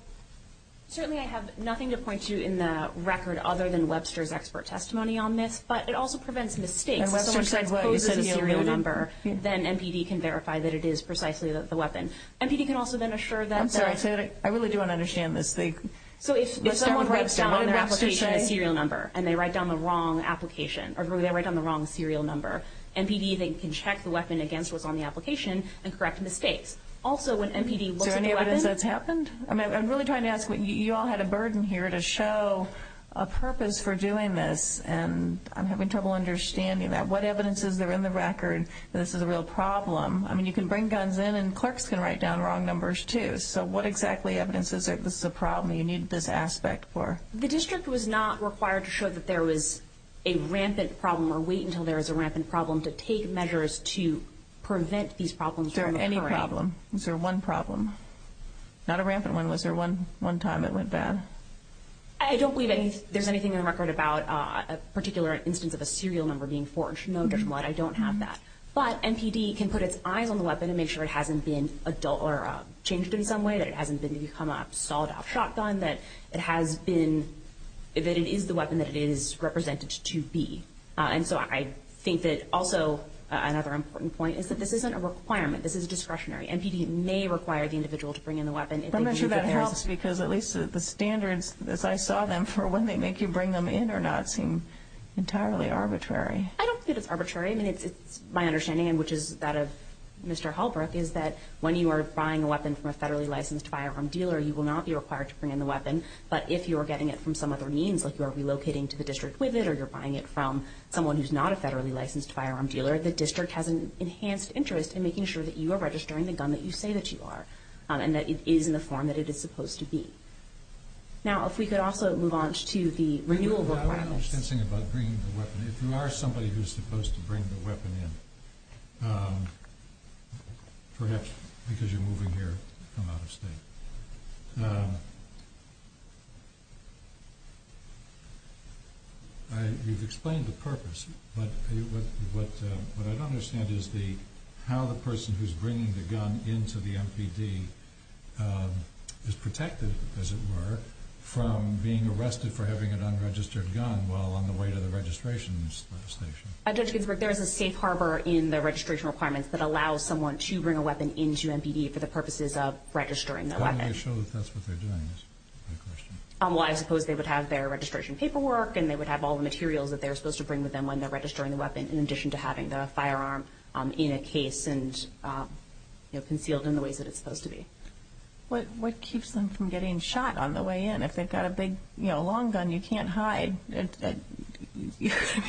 certainly I have nothing to point to in the record other than Webster's expert testimony on this, but it also prevents mistakes. And Webster said, well, it's a serial number. Then MPD can verify that it is precisely the weapon. MPD can also then assure that… I'm sorry. I really don't understand this thing. So if someone writes down their application and serial number, and they write down the wrong application, or they write down the wrong serial number, MPD then can check the weapon against what's on the application and correct mistakes. Also, when MPD looks at the weapon… Is there any evidence that it's happened? I'm really trying to ask, you all had a burden here to show a purpose for doing this, and I'm having trouble understanding that. What evidence is there in the record that this is a real problem? I mean, you can bring guns in, and clerks can write down wrong numbers too. So what exactly evidence is there that this is a problem that you need this aspect for? The district was not required to show that there was a rampant problem or wait until there was a rampant problem to take measures to prevent these problems from occurring. Was there any problem? Was there one problem? Not a rampant one. Was there one time it went bad? I don't believe there's anything in the record about a particular instance of a serial number being forged. No different than that. I don't have that. But MPD can put its eye on the weapon and make sure it hasn't been changed in some way, that it hasn't become a solid-off shotgun, that it is the weapon that it is represented to be. And so I think that also another important point is that this isn't a requirement. This is discretionary. MPD may require the individual to bring in the weapon. I'm not sure that helps because at least the standards, as I saw them, for when they make you bring them in or not seem entirely arbitrary. I don't see it as arbitrary. I mean, my understanding, which is that of Mr. Halpert, is that when you are buying a weapon from a federally licensed firearm dealer, you will not be required to bring in the weapon. But if you are getting it from some other means, like you're relocating to the district with it or you're buying it from someone who's not a federally licensed firearm dealer, the district has an enhanced interest in making sure that you are registering the gun that you say that you are and that it is in the form that it is supposed to be. Now, if we could also move on to the renewal requirement. I don't have an understanding about bringing the weapon in. If you are somebody who's supposed to bring the weapon in, perhaps because you're moving here from out of state. You've explained the purpose, but what I don't understand is how the person who's bringing the gun into the MPD is protected, as it were, from being arrested for having an unregistered gun while on the way to the registration station. There is a safe harbor in the registration requirements that allows someone to bring a weapon into MPD for the purposes of registering the weapon. Why don't they show that that's what they're doing? I suppose they would have their registration paperwork and they would have all the materials that they're supposed to bring with them when they're registering the weapon in addition to having the firearm in a case and concealed in the way that it's supposed to be. What keeps them from getting shot on the way in? If they've got a big long gun, you can't hide. Have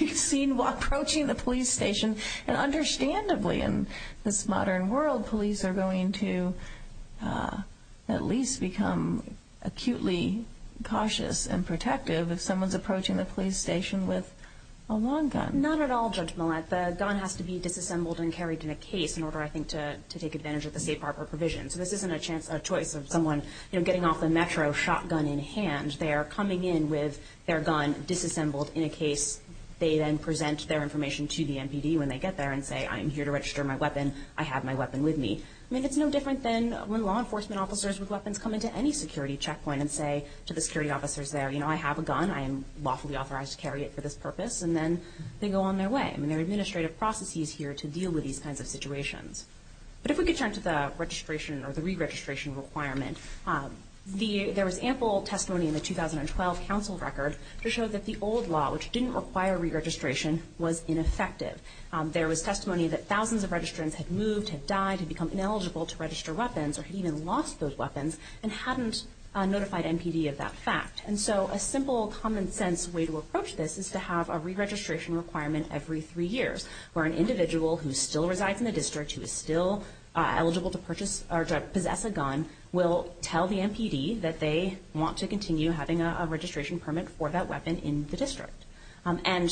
you seen while approaching the police station? Understandably, in this modern world, police are going to at least become acutely cautious and protective if someone's approaching the police station with a long gun. Not at all, Judge Millett. The gun has to be disassembled and carried in a case in order, I think, to take advantage of the safe harbor provision. This isn't a choice of someone getting off the Metro shotgun in hand. They're coming in with their gun disassembled in a case. They then present their information to the MPD when they get there and say, I'm here to register my weapon. I have my weapon with me. It's no different than when law enforcement officers with weapons come into any security checkpoint and say to the security officers there, I have a gun. I am lawfully authorized to carry it for this purpose. And then they go on their way. There are administrative processes here to deal with these kinds of situations. But if we could turn to the registration or the re-registration requirement, there was ample testimony in the 2012 council record to show that the old law, which didn't require re-registration, was ineffective. There was testimony that thousands of registrants had moved, had died, had become ineligible to register weapons or had even lost those weapons and hadn't notified MPD of that fact. And so a simple, common-sense way to approach this is to have a re-registration requirement every three years where an individual who still resides in the district, who is still eligible to purchase or to possess a gun, will tell the MPD that they want to continue having a registration permit for that weapon in the district. And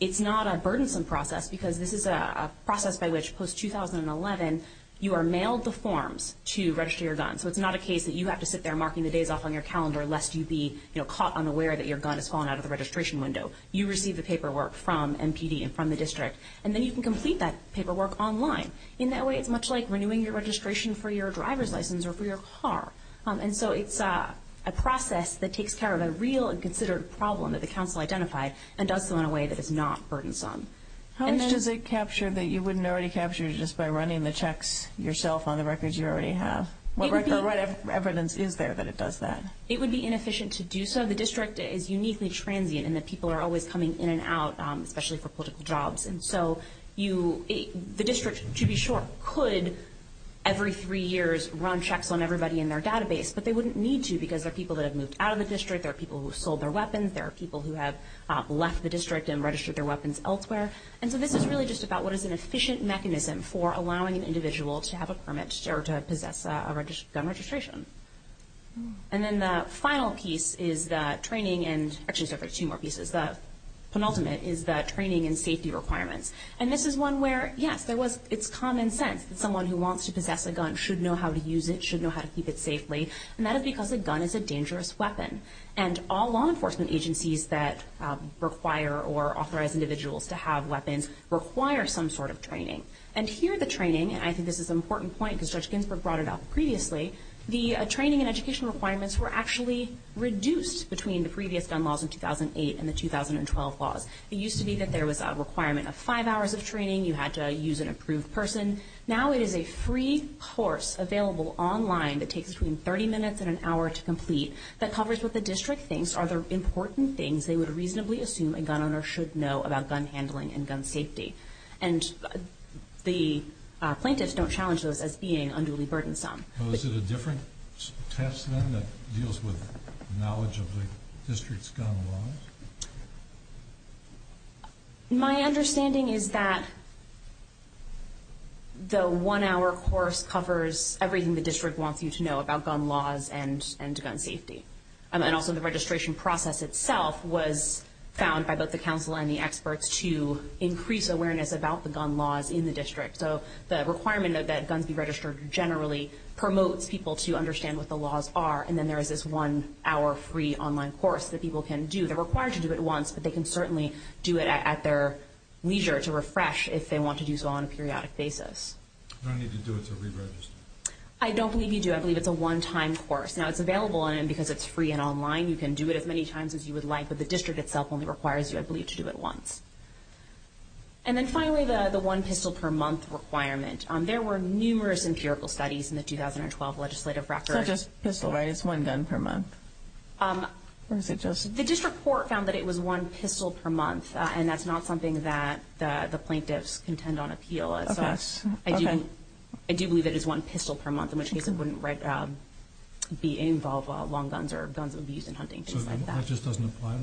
it's not a burdensome process because this is a process by which, post-2011, you are mailed the forms to register your gun. So it's not a case that you have to sit there marking the days off on your calendar lest you be caught unaware that your gun has fallen out of the registration window. You receive the paperwork from MPD and from the district, and then you can complete that paperwork online. In that way, it's much like renewing your registration for your driver's license or for your car. And so it's a process that takes care of a real and considered problem that the council identified and does so in a way that is not burdensome. How much does it capture that you wouldn't already capture just by running the checks yourself on the records you already have? It would be inefficient to do so. The district is uniquely transient in that people are always coming in and out, especially for political jobs. And so the district, to be short, could every three years run checks on everybody in their database, but they wouldn't need to because there are people that have moved out of the district, there are people who have sold their weapons, there are people who have left the district and registered their weapons elsewhere. And so this is really just about what is an efficient mechanism for allowing an individual to have a permit or to possess a gun registration. And then the final piece is training and safety requirements. And this is one where, yes, it's common sense that someone who wants to possess a gun should know how to use it, should know how to keep it safely, and that is because a gun is a dangerous weapon. And all law enforcement agencies that require or authorize individuals to have weapons require some sort of training. And here the training, and I think this is an important point because Judge Ginsburg brought it up previously, the training and education requirements were actually reduced between the previous gun laws in 2008 and the 2012 laws. It used to be that there was a requirement of five hours of training, you had to use an approved person. Now it is a free course available online that takes between 30 minutes and an hour to complete that covers what the district thinks are the important things they would reasonably assume a gun owner should know about gun handling and gun safety. And the plaintiffs don't challenge those as being unduly burdensome. So is it a different test then that deals with knowledge of the district's gun laws? My understanding is that the one-hour course covers everything the district wants you to know about gun laws and gun safety. And also the registration process itself was found by both the counsel and the experts to increase awareness about the gun laws in the district. So the requirement that guns be registered generally promotes people to understand what the laws are and then there is this one-hour free online course that people can do. They're required to do it once, but they can certainly do it at their leisure to refresh if they want to do so on a periodic basis. Do I need to do it to re-register? I don't think you do. I believe it's a one-time course. Now it's available because it's free and online. You can do it as many times as you would like, but the district itself only requires you, I believe, to do it once. And then finally, the one pistol per month requirement. There were numerous empirical studies in the 2012 legislative process. It's just pistol, right? It's one gun per month. The district court found that it was one pistol per month, and that's not something that the plaintiffs contend on appeal. I do believe it is one pistol per month, in which case it wouldn't be involved with long guns or guns of use in hunting, things like that. So it just doesn't apply to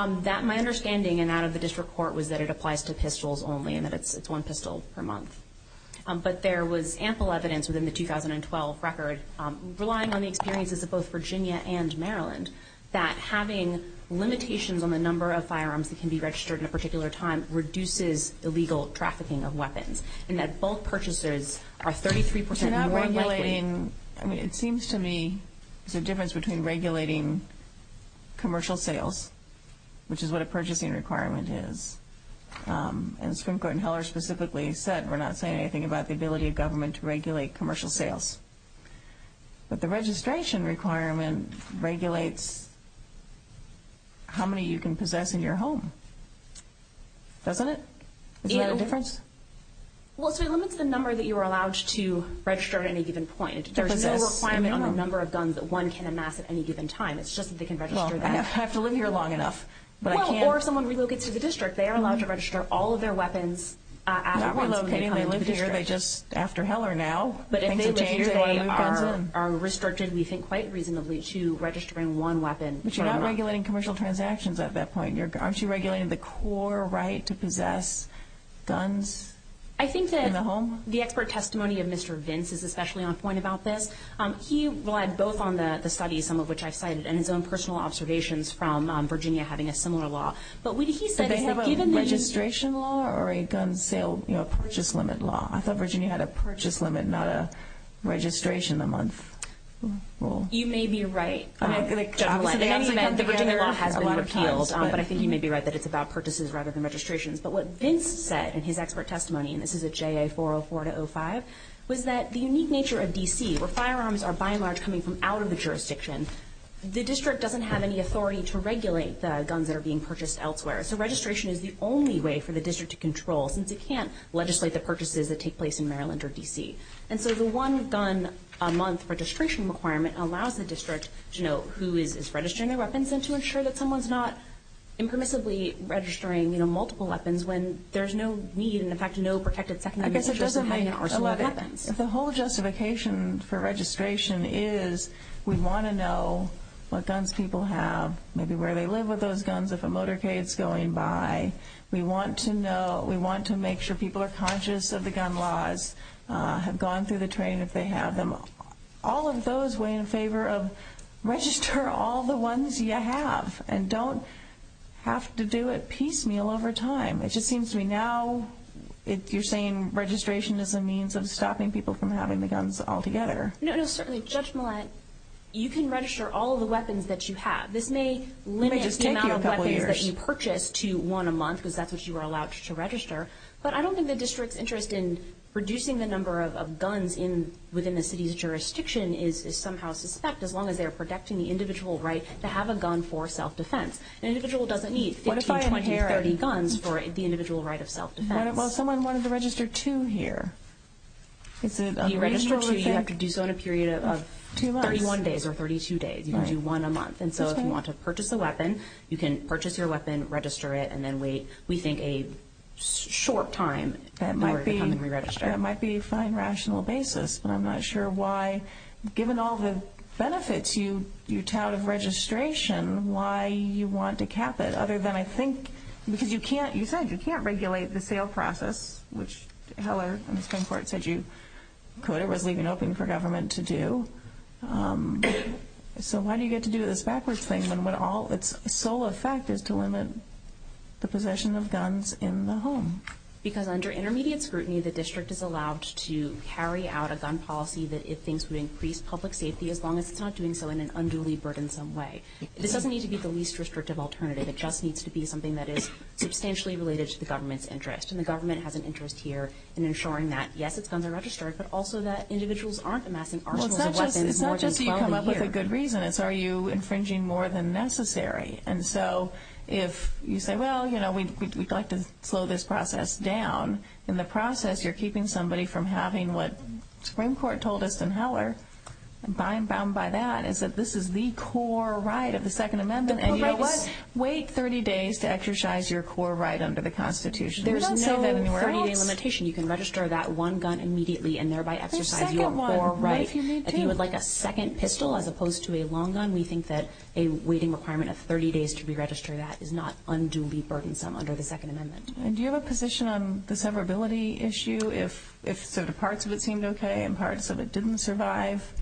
long guns? My understanding, and that of the district court, was that it applies to pistols only and that it's one pistol per month. But there was ample evidence within the 2012 record, relying on the experiences of both Virginia and Maryland, that having limitations on the number of firearms that can be registered in a particular time reduces illegal trafficking of weapons, and that both purchasers are 33% more likely to do so. I mean, it seems to me there's a difference between regulating commercial sales, which is what a purchasing requirement is. And Supreme Court in Heller specifically said, and we're not saying anything about the ability of government to regulate commercial sales, that the registration requirement regulates how many you can possess in your home. Does it? Yeah. Is there a difference? Well, it limits the number that you are allowed to register at any given point. There's no requirement on the number of guns that one can amass at any given time. It's just that they can register them. Well, I have to live here long enough. Well, or someone relocates to the district. They are allowed to register all of their weapons after relocating to the district. Not relocating. They live here. They're just after Heller now. But if they live here, they are restricted, we think, quite reasonably to registering one weapon. But you're not regulating commercial transactions at that point. Aren't you regulating the core right to possess guns in the home? I think that the expert testimony of Mr. Vince is especially on point about this. He relied both on the study, some of which I cited, and his own personal observations from Virginia having a similar law. But when he said it was a registration law or a gun sale purchase limit law. I thought Virginia had a purchase limit, not a registration a month rule. You may be right. The Virginia law has been repealed. But I think you may be right that it's about purchases rather than registrations. But what Vince said in his expert testimony, and this is a JA 404-05, was that the unique nature of D.C., where firearms are by and large coming from out of the jurisdiction, the district doesn't have any authority to regulate the guns that are being purchased elsewhere. So registration is the only way for the district to control, since it can't legislate the purchases that take place in Maryland or D.C. And so the one-gun-a-month registration requirement allows the district to know who is registering their weapons and to ensure that someone's not impermissibly registering multiple weapons when there's no need and, in fact, no protected secondary issue. I guess it doesn't hide, of course, what happens. The whole justification for registration is we want to know what guns people have, maybe where they live with those guns, if a motorcade's going by. We want to know, we want to make sure people are conscious of the gun laws, have gone through the training if they have them. All of those weigh in favor of register all the ones you have and don't have to do it piecemeal over time. It just seems to me now you're saying registration is a means of stopping people from having the guns altogether. No, no, certainly, Judge Millett, you can register all the weapons that you have. This may limit the amount of weapons that you purchase to one a month, because that's what you are allowed to register, but I don't think the district's interest in reducing the number of guns within the city's jurisdiction is somehow suspect, as long as they're protecting the individual right to have a gun for self-defense. An individual doesn't need 15, 20, 30 guns for the individual right of self-defense. Well, someone wanted to register two here. You register two, you have to do so in a period of 31 days or 32 days. You can do one a month. So if you want to purchase a weapon, you can purchase your weapon, register it, and then we think a short time before you come and re-register it. That might be a fine, rational basis, but I'm not sure why given all the benefits you tout of registration, why you want to cap it other than I think because you can't, you said, you can't regulate the sale process, which Heller in the Supreme Court said you could. It wasn't even open for government to do. So why do you have to do this backwards thing when all its sole effect is to limit the possession of guns in the home? Because under intermediate scrutiny, the district is allowed to carry out a gun policy that it thinks would increase public safety as long as it's not doing so in an unduly burdensome way. This doesn't need to be the least restrictive alternative. It just needs to be something that is substantially related to the government's interest, and the government has an interest here in ensuring that, yes, it's under-registered, but also that individuals aren't amassing arsenals of weapons more than seldom here. The question is, are you infringing more than necessary? And so if you say, well, you know, we'd like to slow this process down, in the process you're keeping somebody from having what the Supreme Court told us in Heller, bound by that, is that this is the core right of the Second Amendment. Wait 30 days to exercise your core right under the Constitution. There's no 30-day limitation. You can register that one gun immediately and thereby exercise your core right. If you would like a second pistol as opposed to a long gun, we think that a waiting requirement of 30 days to re-register that is not unduly burdensome under the Second Amendment. Do you have a position on the severability issue, if parts of it seemed okay and parts of it didn't survive?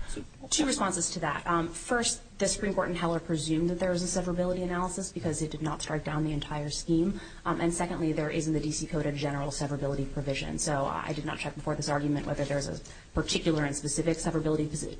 Two responses to that. First, the Supreme Court in Heller presumed that there was a severability analysis because it did not chart down the entire scheme. And secondly, there is in the D.C. Code a general severability provision. So I did not check before this argument whether there is a particular and specific severability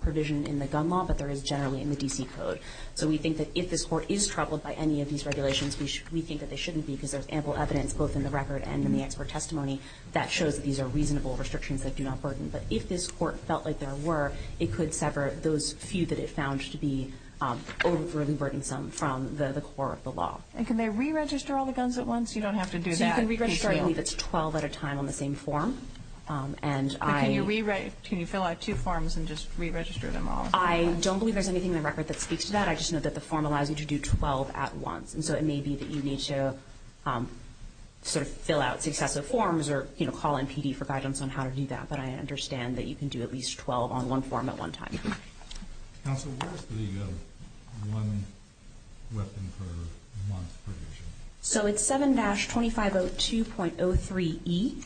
provision in the gun law, but there is generally in the D.C. Code. So we think that if this court is troubled by any of these regulations, we think that they shouldn't be because there's ample evidence, both in the record and in the expert testimony, that shows that these are reasonable restrictions that do not burden. But if this court felt like there were, it could sever those few that it found to be overly burdensome from the core of the law. And can they re-register all the guns at once? You don't have to do that. You can re-register at least 12 at a time on the same form. Can you fill out two forms and just re-register them all? I don't believe there's anything in the record that speaks to that. I just know that the form allows you to do 12 at once. So it may be that you need to sort of fill out successive forms or call in PD for guidance on how to do that. But I understand that you can do at least 12 on one form at one time. Counselor, where is the one weapon per month provision? So it's 7-2502.03E.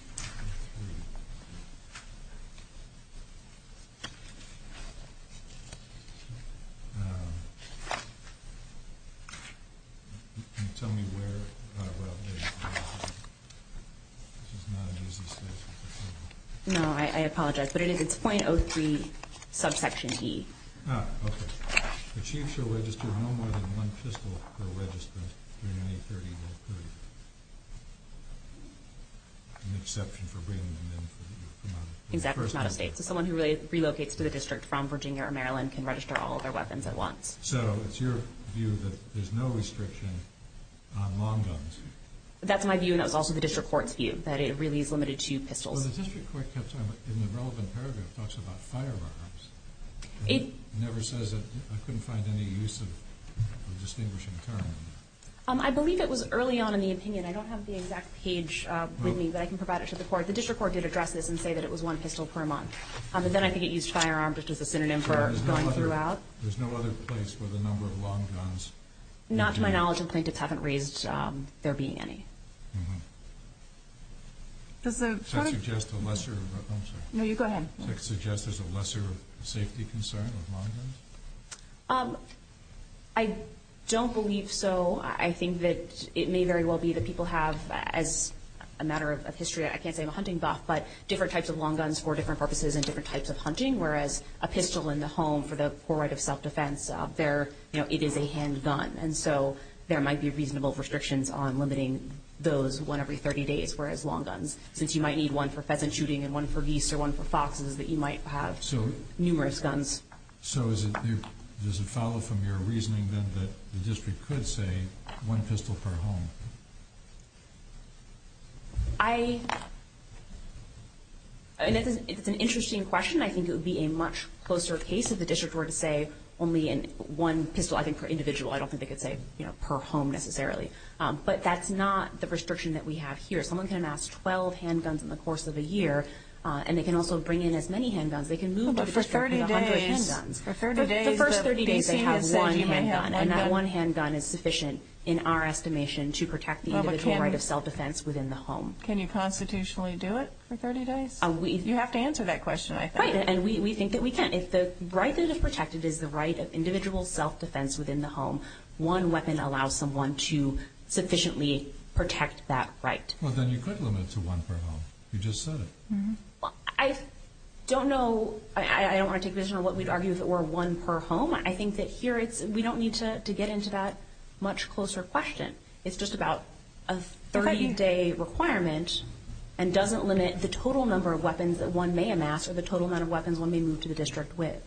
No, I apologize. But it is .03 subsection E. Ah, okay. The chief shall register no more than one pistol per register, and any 30 will prove an exception for bringing them in. That's not a state. Someone who relocates to the district from Virginia or Maryland can register all their weapons at once. So it's your view that there's no restriction on long guns. That's my view, and it's also the district court's view, that it really is limited to pistols. Well, the district court, in the relevant paragraph, talks about firearms. It never says that I couldn't find any use of distinguishing firearms. I believe it was early on in the opinion. I don't have the exact page with me, but I can provide it to the court. The district court did address this and say that it was one pistol per month. But then I think it used firearm just as a synonym for going throughout. There's no other place for the number of long guns. Not to my knowledge. The plaintiffs haven't raised there being any. Does the court suggest there's a lesser safety concern with long guns? I don't believe so. I think that it may very well be that people have, as a matter of history, I can't say the hunting buff, but different types of long guns for different purposes and different types of hunting, whereas a pistol in the home, for the poor right of self-defense, it is a handgun. There might be reasonable restrictions on limiting those, one every 30 days, whereas long guns, since you might need one for pheasant shooting and one for geese or one for foxes, that you might have numerous guns. Does it follow from your reasoning, then, that the district could say one pistol per home? It's an interesting question. I think it would be a much closer case if the district were to say only one pistol, I think for individual, I don't think they could say per home necessarily. But that's not the restriction that we have here. Someone can amass 12 handguns in the course of the year, and they can also bring in as many handguns. They can move the pistol to the hundred handguns. For 30 days, they have one handgun. And that one handgun is sufficient, in our estimation, to protect the individual right of self-defense within the home. Can you constitutionally do it for 30 days? You have to answer that question, I think. Right, and we think that we can. It's the right that is protected is the right of individual self-defense within the home. One weapon allows someone to sufficiently protect that right. Well, then you could limit it to one per home. You just said it. I don't know. I don't want to take this from what we've argued, that we're one per home. I think that here we don't need to get into that much closer question. It's just about a 30-day requirement, and doesn't limit the total number of weapons that one may amass or the total number of weapons one may move to the district with.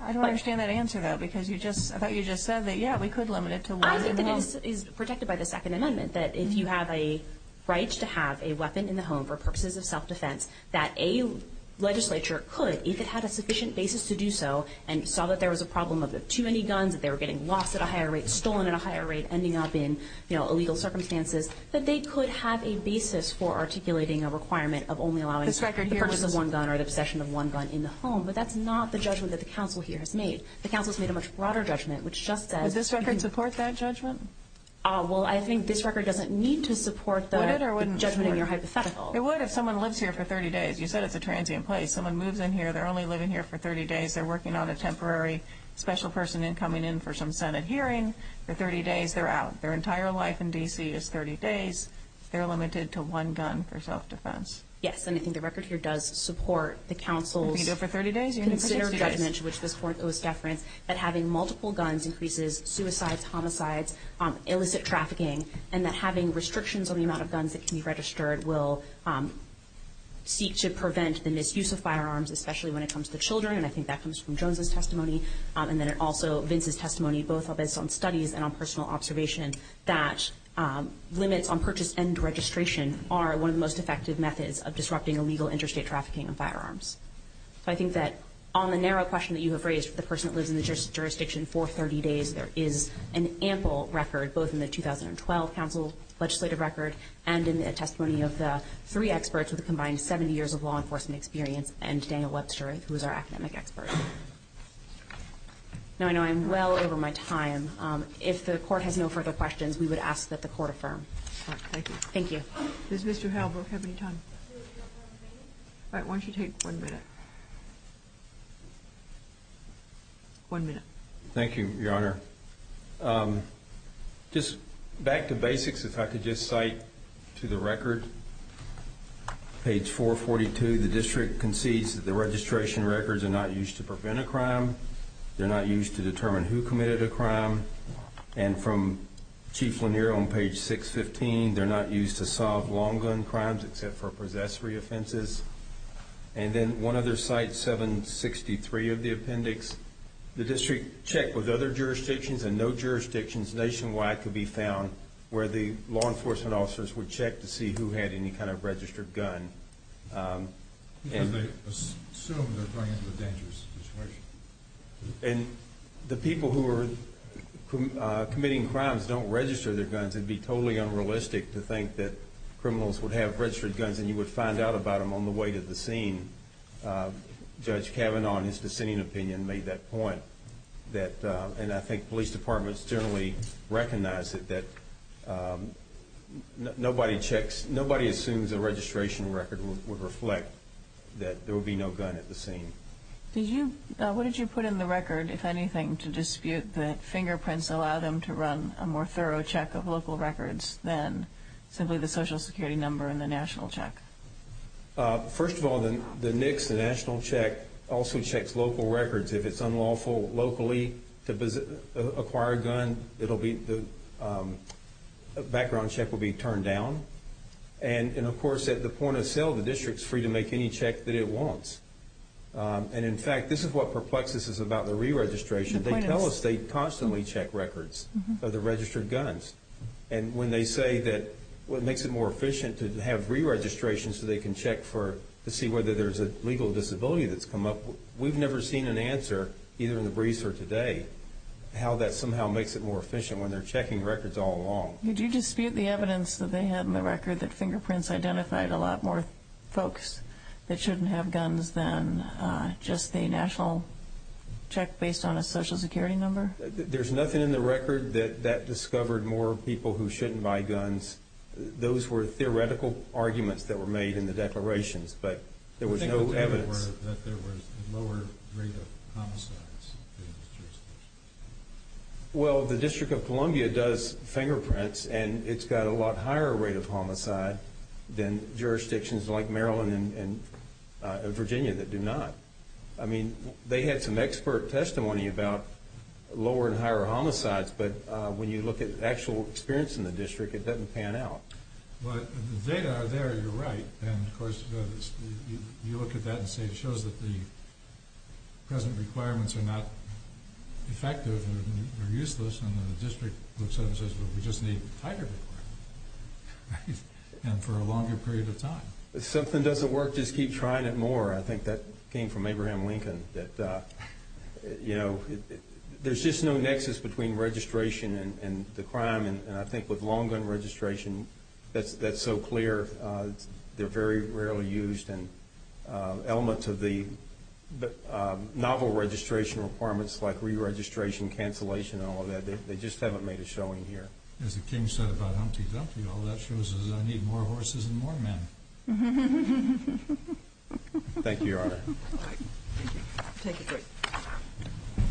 I don't understand that answer, though, because you just – I thought you just said that, yeah, we could limit it to one per home. I think that is protected by the Second Amendment, that if you have a right to have a weapon in the home for purposes of self-defense, that a legislature could, if it had a sufficient basis to do so, and saw that there was a problem of too many guns, that they were getting lost at a higher rate, stolen at a higher rate, ending up in illegal circumstances, that they could have a basis for articulating a requirement of only allowing the purchase of one gun or the possession of one gun in the home. But that's not the judgment that the council here has made. The council has made a much broader judgment, which just says – Would this record support that judgment? Well, I think this record doesn't need to support that judgment in your hypothetical. Would it or wouldn't it? It would if someone lives here for 30 days. You said it's a transient place. Someone moves in here, they're only living here for 30 days, they're working on a temporary special person coming in for some Senate hearing. For 30 days, they're out. Their entire life in D.C. is 30 days. They're limited to one gun for self-defense. Yes, and I think the record here does support the council's – If you go for 30 days, you're going to –– considered judgment, which was for those staff grants, that having multiple guns increases suicide, homicides, illicit trafficking, and that having restrictions on the amount of guns that can be registered will seek to prevent the misuse of firearms, especially when it comes to children. And I think that comes from Jones' testimony. And then it also – Vince's testimony, both of it on studies and on personal observation, that limits on purchase and registration are one of the most effective methods of disrupting illegal interstate trafficking of firearms. So I think that on the narrow question that you have raised, the person who lives in the jurisdiction for 30 days, there is an ample record, both in the 2012 council's legislative record and in the testimony of the three experts with a combined 70 years of law enforcement experience and Daniel Webster, who is our academic expert. Now, I know I'm well over my time. If the court has no further questions, we would ask that the court affirm. Thank you. Thank you. Does Mr. Halbrook have any time? All right, why don't you take one minute. One minute. Thank you, Your Honor. Just back to basics, if I could just cite to the record, page 442. The district concedes that the registration records are not used to prevent a crime. They're not used to determine who committed a crime. And from Chief Lanier on page 615, they're not used to solve long gun crimes except for possessory offenses. And then one other cite, 763 of the appendix, the district checked with other jurisdictions and no jurisdictions nationwide could be found where the law enforcement officers would check to see who had any kind of registered gun. And they assume they're framed in a dangerous situation. And the people who are committing crimes don't register their guns. It would be totally unrealistic to think that criminals would have registered guns and you would find out about them on the way to the scene. Judge Kavanaugh, in his dissenting opinion, made that point. And I think police departments generally recognize it, but nobody assumes a registration record would reflect that there would be no gun at the scene. What did you put in the record, if anything, to dispute the fingerprints that allow them to run a more thorough check of local records than simply the Social Security number and the national check? First of all, the NICS, the national check, also checks local records. If it's unlawful locally to acquire a gun, the background check will be turned down. And, of course, at the point of sale, the district is free to make any check that it wants. And, in fact, this is what perplexes us about the re-registration. They tell us they constantly check records of the registered guns. And when they say that what makes it more efficient is to have re-registrations so they can check to see whether there's a legal disability that's come up, we've never seen an answer, either in the briefs or today, how that somehow makes it more efficient when they're checking records all along. Did you dispute the evidence that they had in the record that fingerprints identified a lot more folks that shouldn't have guns than just a national check based on a Social Security number? There's nothing in the record that that discovered more people who shouldn't buy guns. Those were theoretical arguments that were made in the declarations, but there was no evidence. There was no evidence that there was a lower rate of homicides in those jurisdictions. Well, the District of Columbia does fingerprints, and it's got a lot higher rate of homicide than jurisdictions like Maryland and Virginia that do not. I mean, they have some expert testimony about lower and higher homicides, but when you look at actual experience in the district, it doesn't pan out. Well, the data there, you're right, and, of course, you look at that and say it shows that the present requirements are not effective or useless, and then the district looks at it and says, well, we just need higher requirements, and for a longer period of time. If something doesn't work, just keep trying it more. I think that came from Abraham Lincoln that, you know, there's just no nexus between registration and the crime, and I think with long gun registration, that's so clear. They're very rarely used, and elements of the novel registration requirements like re-registration, cancellation, and all of that, they just haven't made a showing here. As the king said about Humpty Dumpty, all that shows is we're going to need more horses and more men. Thank you, Your Honor. Thank you.